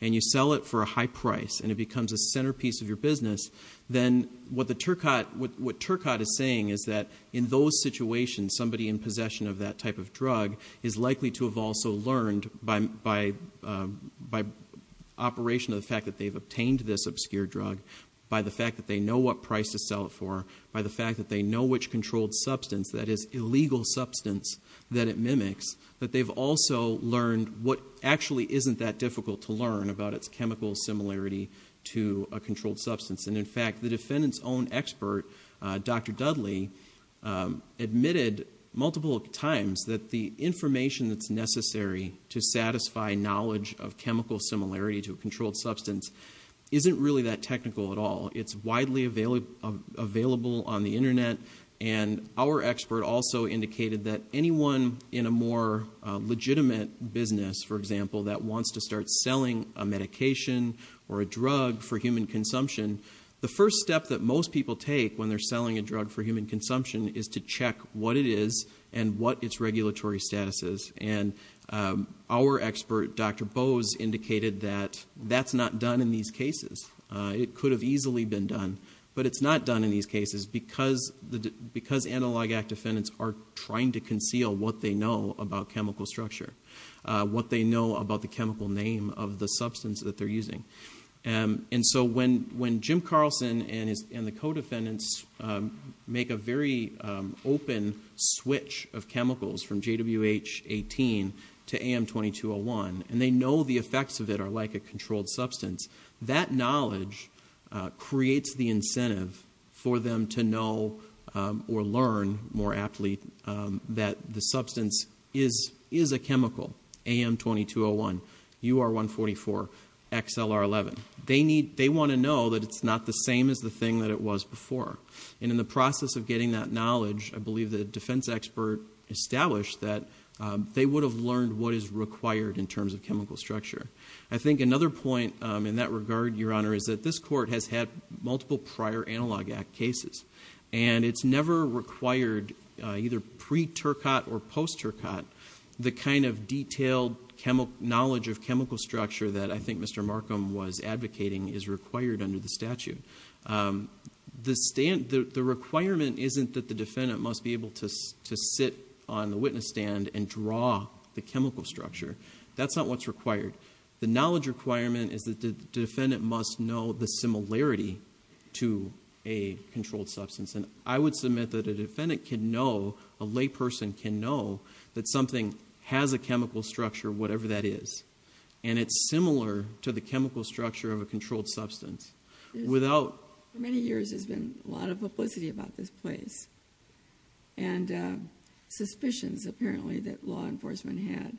and you sell it for a high price and it becomes a centerpiece of your business, then what Turcotte is saying is that in those situations, somebody in possession of that type of drug is likely to have also learned by operation of the fact that they've obtained this obscure drug, by the fact that they know what price to sell it for, by the fact that they know which controlled substance, that is, illegal substance that it mimics, that they've also learned what actually isn't that difficult to learn about its chemical similarity to a controlled substance. And in fact, the defendant's own expert, Dr. Dudley, admitted multiple times that the information that's necessary to satisfy knowledge of chemical similarity to a controlled substance isn't really that technical at all. It's widely available on the Internet, and our expert also indicated that anyone in a more legitimate business, for example, that wants to start selling a medication or a drug for human consumption, the first step that most people take when they're selling a drug for human consumption is to check what it is and what its regulatory status is. And our expert, Dr. Bose, indicated that that's not done in these cases. It could have easily been done, but it's not done in these cases because analog act defendants are trying to conceal what they know about chemical structure, what they know about the chemical name of the substance that they're using. And so when Jim Carlson and the co-defendants make a very open switch of chemicals from JWH-18 to AM-2201 and they know the effects of it are like a controlled substance, that knowledge creates the incentive for them to know or learn more aptly that the substance is a chemical, AM-2201, UR-144, XLR-11. They want to know that it's not the same as the thing that it was before. And in the process of getting that knowledge, I believe the defense expert established that they would have learned what is required in terms of chemical structure. I think another point in that regard, Your Honor, is that this Court has had multiple prior Analog Act cases, and it's never required, either pre-Turcotte or post-Turcotte, the kind of detailed knowledge of chemical structure that I think Mr. Markham was advocating is required under the statute. The requirement isn't that the defendant must be able to sit on the witness stand and draw the chemical structure. That's not what's required. The knowledge requirement is that the defendant must know the similarity to a controlled substance. And I would submit that a defendant can know, a lay person can know, that something has a chemical structure, whatever that is, and it's similar to the chemical structure of a controlled substance. For many years there's been a lot of publicity about this place and suspicions, apparently, that law enforcement had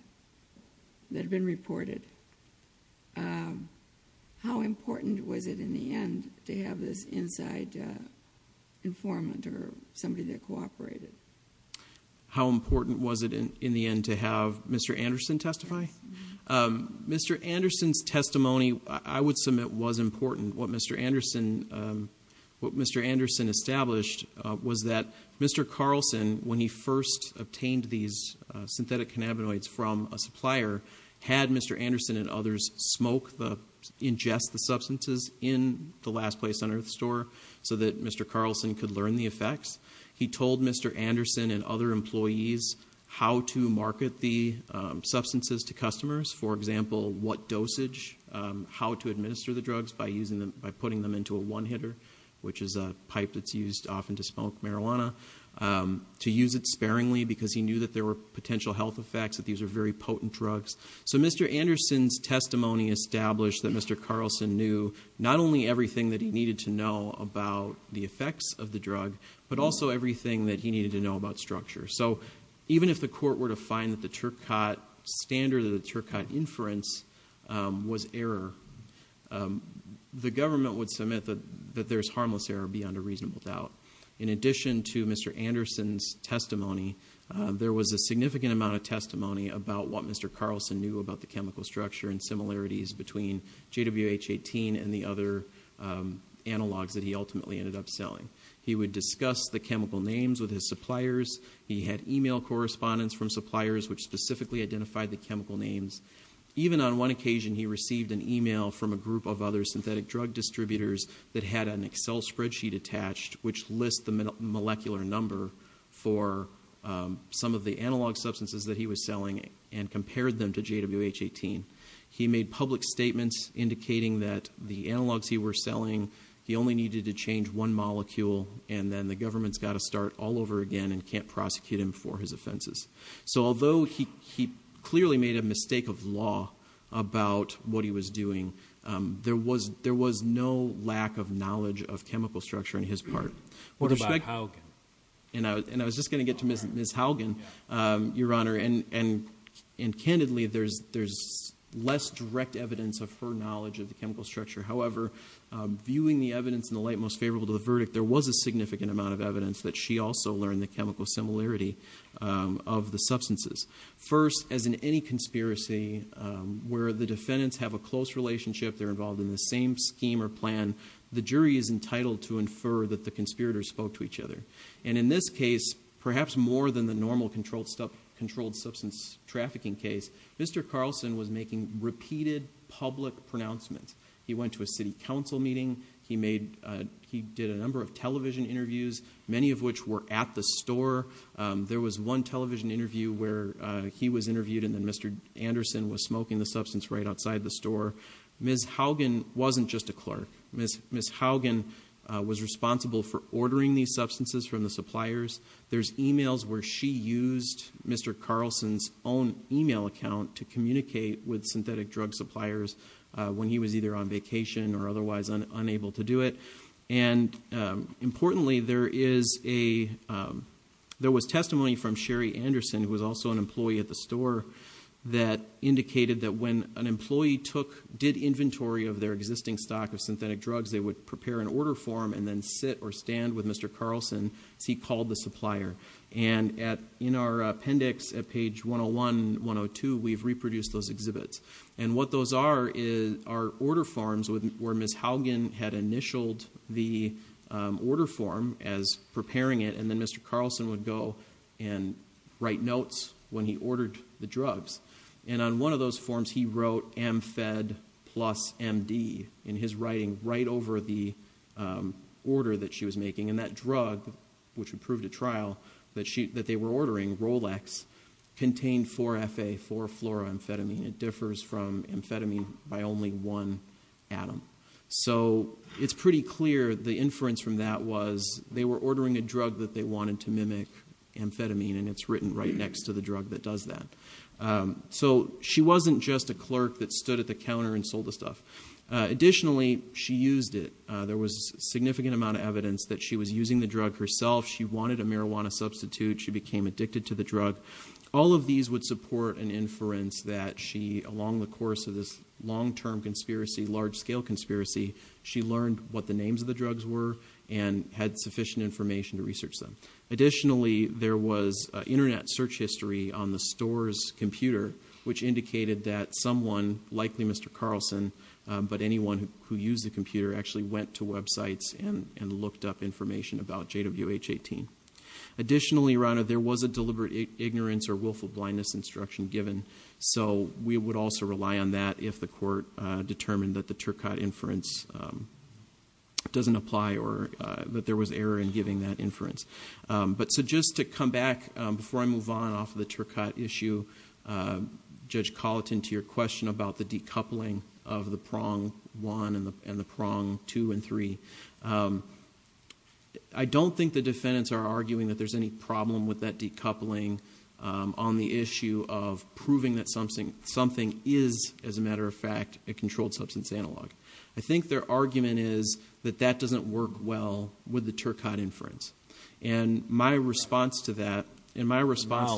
that have been reported. How important was it in the end to have this inside informant or somebody that cooperated? How important was it in the end to have Mr. Anderson testify? Mr. Anderson's testimony, I would submit, was important. What Mr. Anderson established was that Mr. Carlson, when he first obtained these synthetic cannabinoids from a supplier, had Mr. Anderson and others ingest the substances in the Last Place on Earth store so that Mr. Carlson could learn the effects. He told Mr. Anderson and other employees how to market the substances to customers, for example, what dosage, how to administer the drugs by putting them into a one-hitter, which is a pipe that's used often to smoke marijuana, to use it sparingly because he knew that there were potential health effects, that these were very potent drugs. So Mr. Anderson's testimony established that Mr. Carlson knew not only everything that he needed to know about the effects of the drug but also everything that he needed to know about structure. So even if the court were to find that the standard of the Turcotte inference was error, the government would submit that there's harmless error beyond a reasonable doubt. In addition to Mr. Anderson's testimony, there was a significant amount of testimony about what Mr. Carlson knew about the chemical structure and similarities between JWH-18 and the other analogs that he ultimately ended up selling. He would discuss the chemical names with his suppliers. He had e-mail correspondence from suppliers which specifically identified the chemical names. Even on one occasion, he received an e-mail from a group of other synthetic drug distributors that had an Excel spreadsheet attached which lists the molecular number for some of the analog substances that he was selling and compared them to JWH-18. He made public statements indicating that the analogs he was selling, he only needed to change one molecule, and then the government's got to start all over again and can't prosecute him for his offenses. So although he clearly made a mistake of law about what he was doing, there was no lack of knowledge of chemical structure on his part. What about Haugen? And I was just going to get to Ms. Haugen, Your Honor, and candidly there's less direct evidence of her knowledge of the chemical structure. However, viewing the evidence in the light most favorable to the verdict, there was a significant amount of evidence that she also learned the chemical similarity of the substances. First, as in any conspiracy where the defendants have a close relationship, they're involved in the same scheme or plan, the jury is entitled to infer that the conspirators spoke to each other. And in this case, perhaps more than the normal controlled substance trafficking case, Mr. Carlson was making repeated public pronouncements. He went to a city council meeting. He did a number of television interviews, many of which were at the store. There was one television interview where he was interviewed and then Mr. Anderson was smoking the substance right outside the store. Ms. Haugen wasn't just a clerk. Ms. Haugen was responsible for ordering these substances from the suppliers. There's e-mails where she used Mr. Carlson's own e-mail account to communicate with synthetic drug suppliers when he was either on vacation or otherwise unable to do it. And importantly, there was testimony from Sherry Anderson, who was also an employee at the store, that indicated that when an employee did inventory of their existing stock of synthetic drugs, they would prepare an order form and then sit or stand with Mr. Carlson as he called the supplier. And in our appendix at page 101, 102, we've reproduced those exhibits. And what those are are order forms where Ms. Haugen had initialed the order form as preparing it and then Mr. Carlson would go and write notes when he ordered the drugs. And on one of those forms, he wrote AMFED plus MD in his writing right over the order that she was making. And that drug, which would prove to trial, that they were ordering, Rolex, contained 4-FA, 4-fluoramphetamine. It differs from amphetamine by only one atom. So it's pretty clear the inference from that was they were ordering a drug that they wanted to mimic amphetamine, and it's written right next to the drug that does that. So she wasn't just a clerk that stood at the counter and sold the stuff. Additionally, she used it. There was a significant amount of evidence that she was using the drug herself. She wanted a marijuana substitute. She became addicted to the drug. All of these would support an inference that she, along the course of this long-term conspiracy, large-scale conspiracy, she learned what the names of the drugs were and had sufficient information to research them. Additionally, there was Internet search history on the store's computer, which indicated that someone, likely Mr. Carlson, but anyone who used the computer, actually went to websites and looked up information about JWH-18. Additionally, Your Honor, there was a deliberate ignorance or willful blindness instruction given, so we would also rely on that if the court determined that the Turcotte inference doesn't apply or that there was error in giving that inference. But so just to come back, before I move on off of the Turcotte issue, Judge Colleton, to your question about the decoupling of the prong one and the prong two and three, I don't think the defendants are arguing that there's any problem with that decoupling on the issue of proving that something is, as a matter of fact, a controlled substance analog. I think their argument is that that doesn't work well with the Turcotte inference. And my response to that, and my response...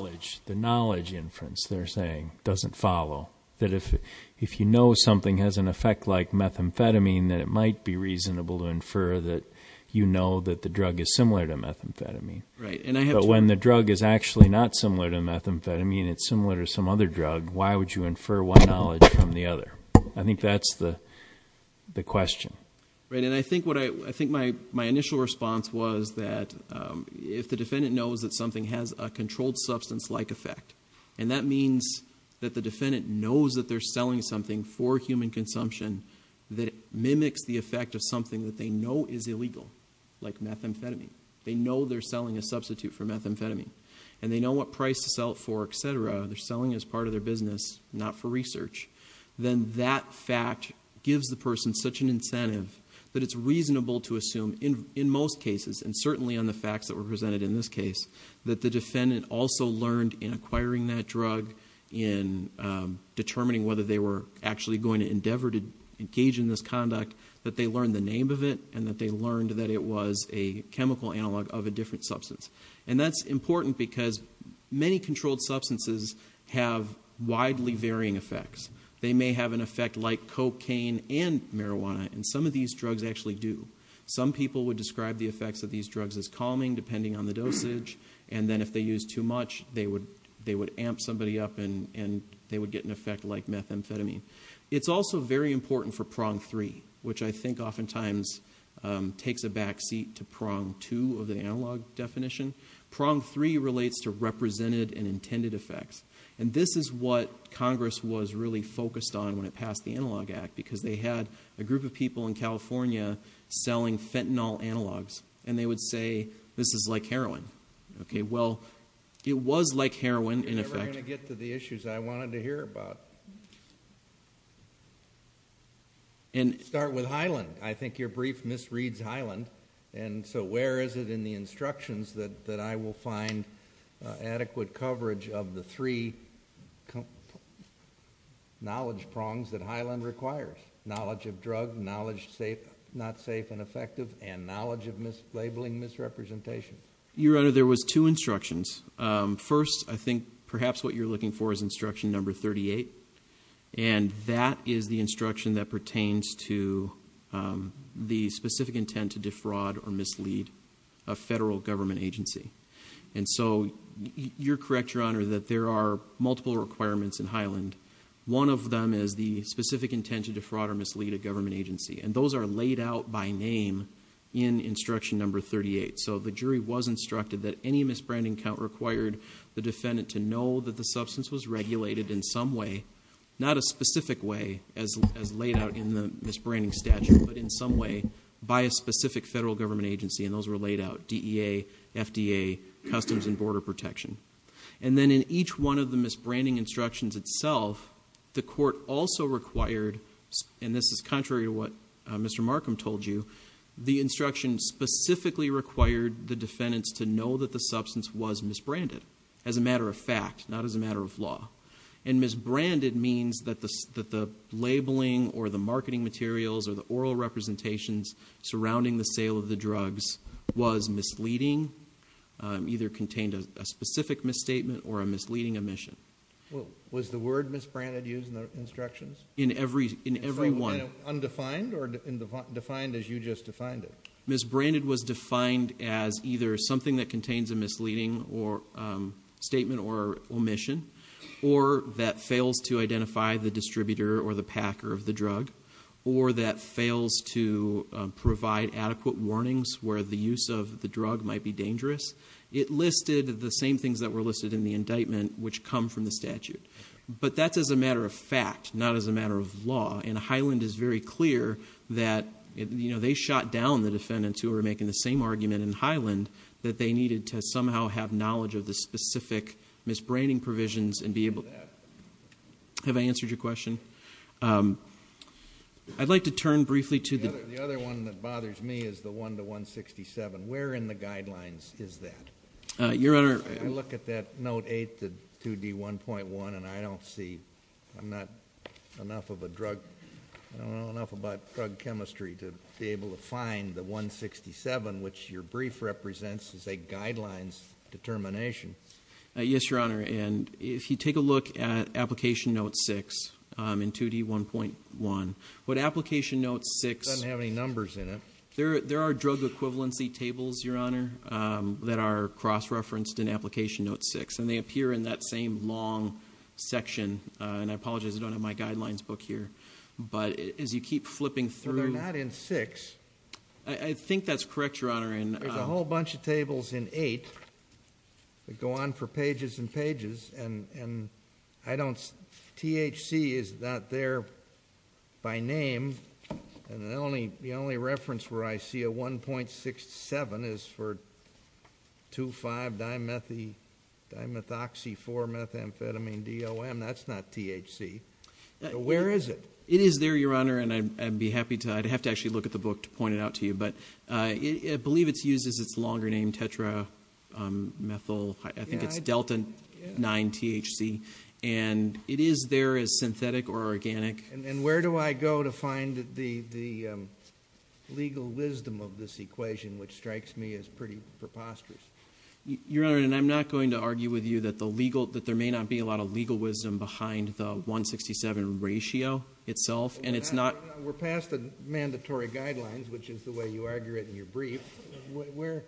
The knowledge inference, they're saying, doesn't follow. That if you know something has an effect like methamphetamine, that it might be reasonable to infer that you know that the drug is similar to methamphetamine. But when the drug is actually not similar to methamphetamine, it's similar to some other drug, why would you infer one knowledge from the other? I think that's the question. And I think my initial response was that if the defendant knows that something has a controlled substance-like effect, and that means that the defendant knows that they're selling something for human consumption that mimics the effect of something that they know is illegal, like methamphetamine. They know they're selling a substitute for methamphetamine. And they know what price to sell it for, etc. They're selling it as part of their business, not for research. Then that fact gives the person such an incentive that it's reasonable to assume, in most cases, and certainly on the facts that were presented in this case, that the defendant also learned in acquiring that drug, in determining whether they were actually going to endeavor to engage in this conduct, that they learned the name of it and that they learned that it was a chemical analog of a different substance. And that's important because many controlled substances have widely varying effects. They may have an effect like cocaine and marijuana, and some of these drugs actually do. Some people would describe the effects of these drugs as calming, depending on the dosage, and then if they used too much, they would amp somebody up and they would get an effect like methamphetamine. It's also very important for prong three, which I think oftentimes takes a back seat to prong two of the analog definition. Prong three relates to represented and intended effects. And this is what Congress was really focused on when it passed the Analog Act, because they had a group of people in California selling fentanyl analogs, and they would say this is like heroin. Well, it was like heroin in effect. You're never going to get to the issues I wanted to hear about. Start with Hyland. I think your brief misreads Hyland, and so where is it in the instructions that I will find adequate coverage of the three knowledge prongs that Hyland requires? Knowledge of drug, knowledge not safe and effective, and knowledge of labeling misrepresentation. Your Honor, there was two instructions. First, I think perhaps what you're looking for is instruction number 38, and that is the instruction that pertains to the specific intent to defraud or mislead a federal government agency. And so you're correct, Your Honor, that there are multiple requirements in Hyland. One of them is the specific intent to defraud or mislead a government agency, and those are laid out by name in instruction number 38. So the jury was instructed that any misbranding count required the defendant to know that the substance was regulated in some way, not a specific way as laid out in the misbranding statute, but in some way by a specific federal government agency, and those were laid out, DEA, FDA, Customs and Border Protection. And then in each one of the misbranding instructions itself, the court also required, and this is contrary to what Mr. Markham told you, the instruction specifically required the defendants to know that the substance was misbranded as a matter of fact, not as a matter of law. And misbranded means that the labeling or the marketing materials or the oral representations surrounding the sale of the drugs was misleading, either contained a specific misstatement or a misleading omission. Was the word misbranded used in the instructions? In every one. Undefined or defined as you just defined it? Misbranded was defined as either something that contains a misleading statement or omission, or that fails to identify the distributor or the packer of the drug, or that fails to provide adequate warnings where the use of the drug might be dangerous. It listed the same things that were listed in the indictment, which come from the statute. But that's as a matter of fact, not as a matter of law, and Highland is very clear that they shot down the defendants who were making the same argument in Highland that they needed to somehow have knowledge of the specific misbranding provisions and be able to do that. Have I answered your question? I'd like to turn briefly to the... The other one that bothers me is the 1 to 167. Where in the guidelines is that? Your Honor... I look at that Note 8, the 2D1.1, and I don't see... I'm not enough of a drug... I don't know enough about drug chemistry to be able to find the 167, which your brief represents as a guidelines determination. Yes, Your Honor, and if you take a look at Application Note 6 in 2D1.1, what Application Note 6... It doesn't have any numbers in it. There are drug equivalency tables, Your Honor, that are cross-referenced in Application Note 6, and they appear in that same long section. And I apologize, I don't have my guidelines book here. But as you keep flipping through... But they're not in 6. I think that's correct, Your Honor. There's a whole bunch of tables in 8 that go on for pages and pages, and THC is not there by name, and the only reference where I see a 1.67 is for 2,5-dimethoxy-4-methamphetamine-DOM. That's not THC. Where is it? It is there, Your Honor, and I'd be happy to... I'd have to actually look at the book to point it out to you, but I believe it's used as its longer name, tetramethyl... And it is there as synthetic or organic. And where do I go to find the legal wisdom of this equation, which strikes me as pretty preposterous? Your Honor, and I'm not going to argue with you that there may not be a lot of legal wisdom behind the 1.67 ratio itself, and it's not... We're past the mandatory guidelines, which is the way you argue it in your brief. Where...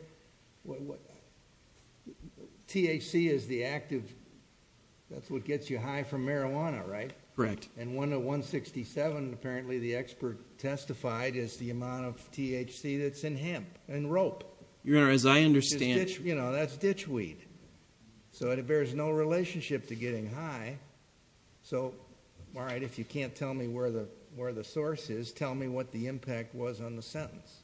THC is the active... That's what gets you high from marijuana, right? Correct. And 1.67, apparently the expert testified, is the amount of THC that's in hemp and rope. Your Honor, as I understand... You know, that's ditch weed. So it bears no relationship to getting high. So, all right, if you can't tell me where the source is, tell me what the impact was on the sentence.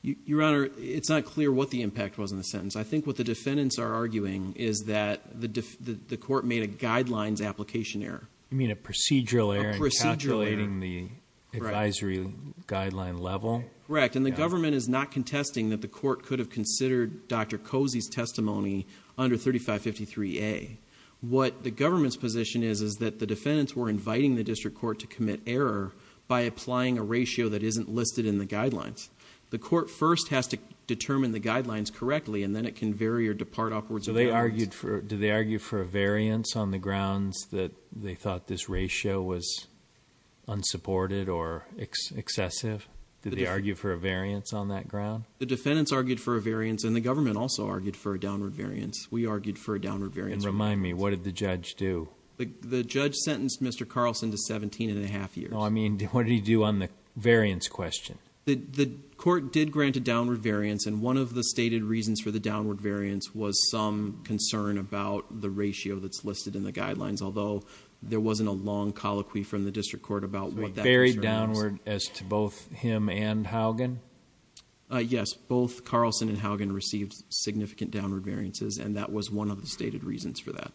Your Honor, it's not clear what the impact was on the sentence. I think what the defendants are arguing is that the court made a guidelines application error. You mean a procedural error in calculating the advisory guideline level? Correct. And the government is not contesting that the court could have considered Dr. Cozy's testimony under 3553A. What the government's position is is that the defendants were inviting the district court to commit error by applying a ratio that isn't listed in the guidelines. The court first has to determine the guidelines correctly, and then it can vary or depart upwards. So they argued for... Did they argue for a variance on the grounds that they thought this ratio was unsupported or excessive? Did they argue for a variance on that ground? The defendants argued for a variance, and the government also argued for a downward variance. We argued for a downward variance. And remind me, what did the judge do? The judge sentenced Mr. Carlson to 17 and a half years. I mean, what did he do on the variance question? The court did grant a downward variance, and one of the stated reasons for the downward variance was some concern about the ratio that's listed in the guidelines, although there wasn't a long colloquy from the district court about what that concern was. Very downward as to both him and Haugen? Yes. Both Carlson and Haugen received significant downward variances, and that was one of the stated reasons for that.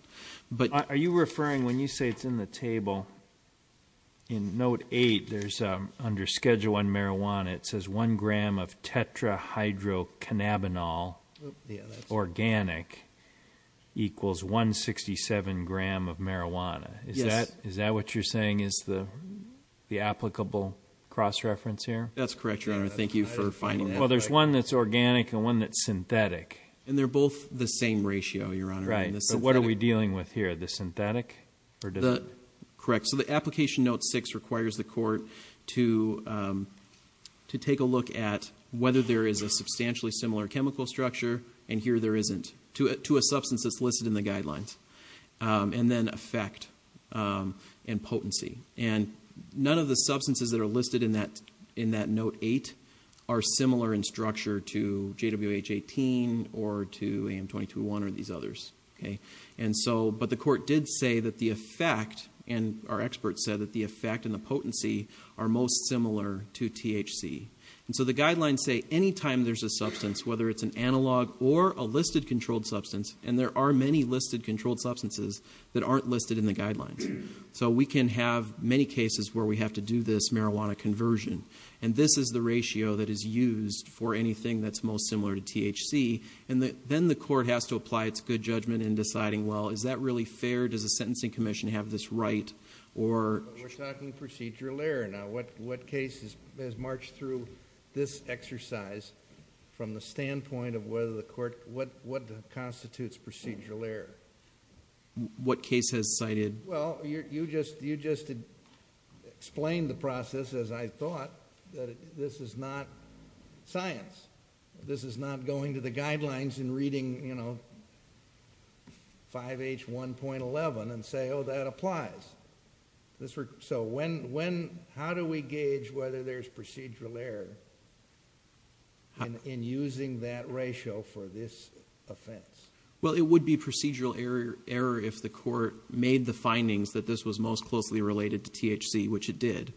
Are you referring, when you say it's in the table, in Note 8, under Schedule I Marijuana, it says 1 gram of tetrahydrocannabinol organic equals 167 gram of marijuana. Is that what you're saying is the applicable cross-reference here? That's correct, Your Honor. Thank you for finding that out. Well, there's one that's organic and one that's synthetic. And they're both the same ratio, Your Honor. Right. But what are we dealing with here, the synthetic or different? Correct. So the application Note 6 requires the court to take a look at whether there is a substantially similar chemical structure, and here there isn't, to a substance that's listed in the guidelines, and then effect and potency. And none of the substances that are listed in that Note 8 are similar in structure to JWH-18 or to AM-221 or these others. But the court did say that the effect, and our experts said that the effect and the potency are most similar to THC. And so the guidelines say any time there's a substance, whether it's an analog or a listed controlled substance, and there are many listed controlled substances that aren't listed in the guidelines. So we can have many cases where we have to do this marijuana conversion. And this is the ratio that is used for anything that's most similar to THC. And then the court has to apply its good judgment in deciding, well, is that really fair? Does the Sentencing Commission have this right? We're talking procedural error now. What case has marched through this exercise from the standpoint of what constitutes procedural error? What case has cited? Well, you just explained the process, as I thought, that this is not science. This is not going to the guidelines and reading 5H1.11 and say, oh, that applies. So how do we gauge whether there's procedural error in using that ratio for this offense? Well, it would be procedural error if the court made the findings that this was most closely related to THC, which it did,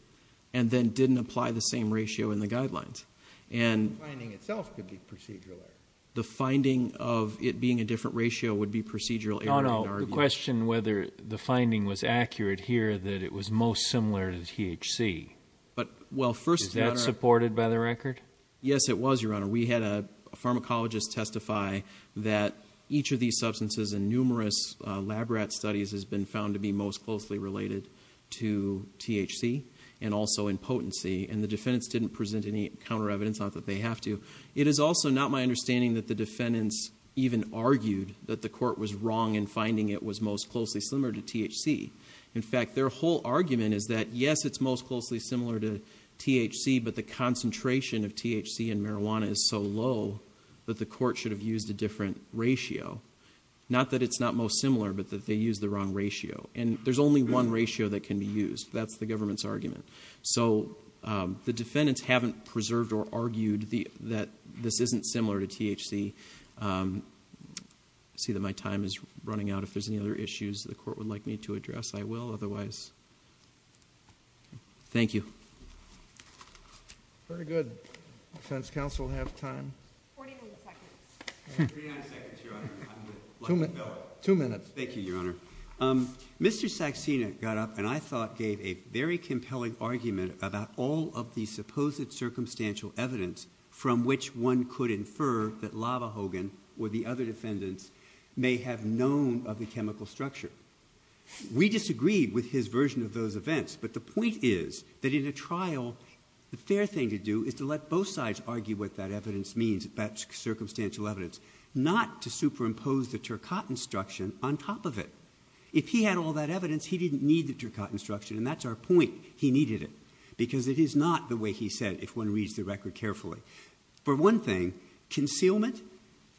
and then didn't apply the same ratio in the guidelines. The finding itself could be procedural error. The finding of it being a different ratio would be procedural error in our view. Oh, no, the question whether the finding was accurate here that it was most similar to THC. Is that supported by the record? Yes, it was, Your Honor. We had a pharmacologist testify that each of these substances in numerous lab rat studies has been found to be most closely related to THC and also in potency, and the defendants didn't present any counter evidence, not that they have to. It is also not my understanding that the defendants even argued that the court was wrong in finding it was most closely similar to THC. In fact, their whole argument is that, yes, it's most closely similar to THC, but the concentration of THC in marijuana is so low that the court should have used a different ratio. Not that it's not most similar, but that they used the wrong ratio, and there's only one ratio that can be used. That's the government's argument. So the defendants haven't preserved or argued that this isn't similar to THC. I see that my time is running out. If there's any other issues the court would like me to address, I will. Otherwise, thank you. Very good. Does counsel have time? Forty-nine seconds, Your Honor. Two minutes. Thank you, Your Honor. Mr. Saxena got up and, I thought, gave a very compelling argument about all of the supposed circumstantial evidence from which one could infer that Lava Hogan or the other defendants may have known of the chemical structure. We disagreed with his version of those events, but the point is that in a trial the fair thing to do is to let both sides argue what that evidence means, that circumstantial evidence, not to superimpose the Turcotte instruction on top of it. If he had all that evidence, he didn't need the Turcotte instruction, and that's our point, he needed it, because it is not the way he said it, if one reads the record carefully. For one thing, concealment.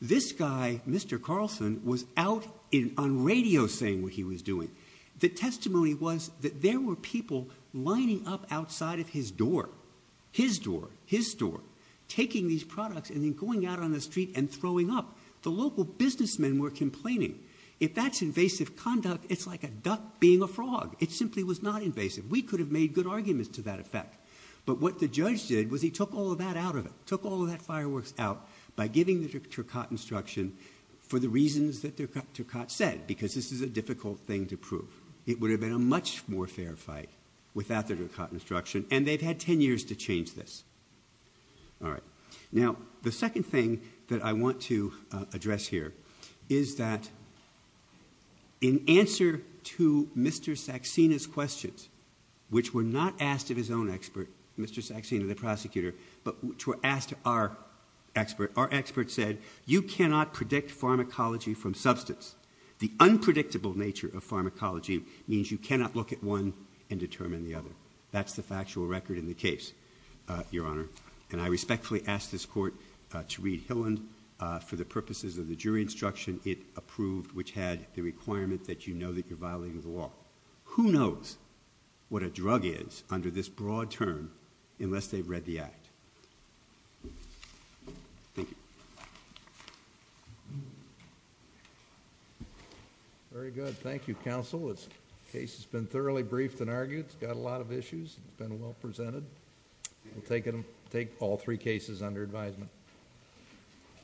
If this guy, Mr. Carlson, was out on radio saying what he was doing, the testimony was that there were people lining up outside of his door, his door, his store, taking these products and then going out on the street and throwing up. The local businessmen were complaining. If that's invasive conduct, it's like a duck being a frog. It simply was not invasive. We could have made good arguments to that effect, but what the judge did was he took all of that out of it, by giving the Turcotte instruction for the reasons that Turcotte said, because this is a difficult thing to prove. It would have been a much more fair fight without the Turcotte instruction, and they've had 10 years to change this. Now, the second thing that I want to address here is that in answer to Mr. Saxena's questions, which were not asked of his own expert, Mr. Saxena, the prosecutor, but which were asked of our expert, our expert said, you cannot predict pharmacology from substance. The unpredictable nature of pharmacology means you cannot look at one and determine the other. That's the factual record in the case, Your Honor, and I respectfully ask this Court to read Hilland for the purposes of the jury instruction it approved, which had the requirement that you know that you're violating the law. Who knows what a drug is under this broad term unless they've read the act. Thank you. Very good. Thank you, Counsel. The case has been thoroughly briefed and argued. It's got a lot of issues. It's been well presented. We'll take all three cases under advisement.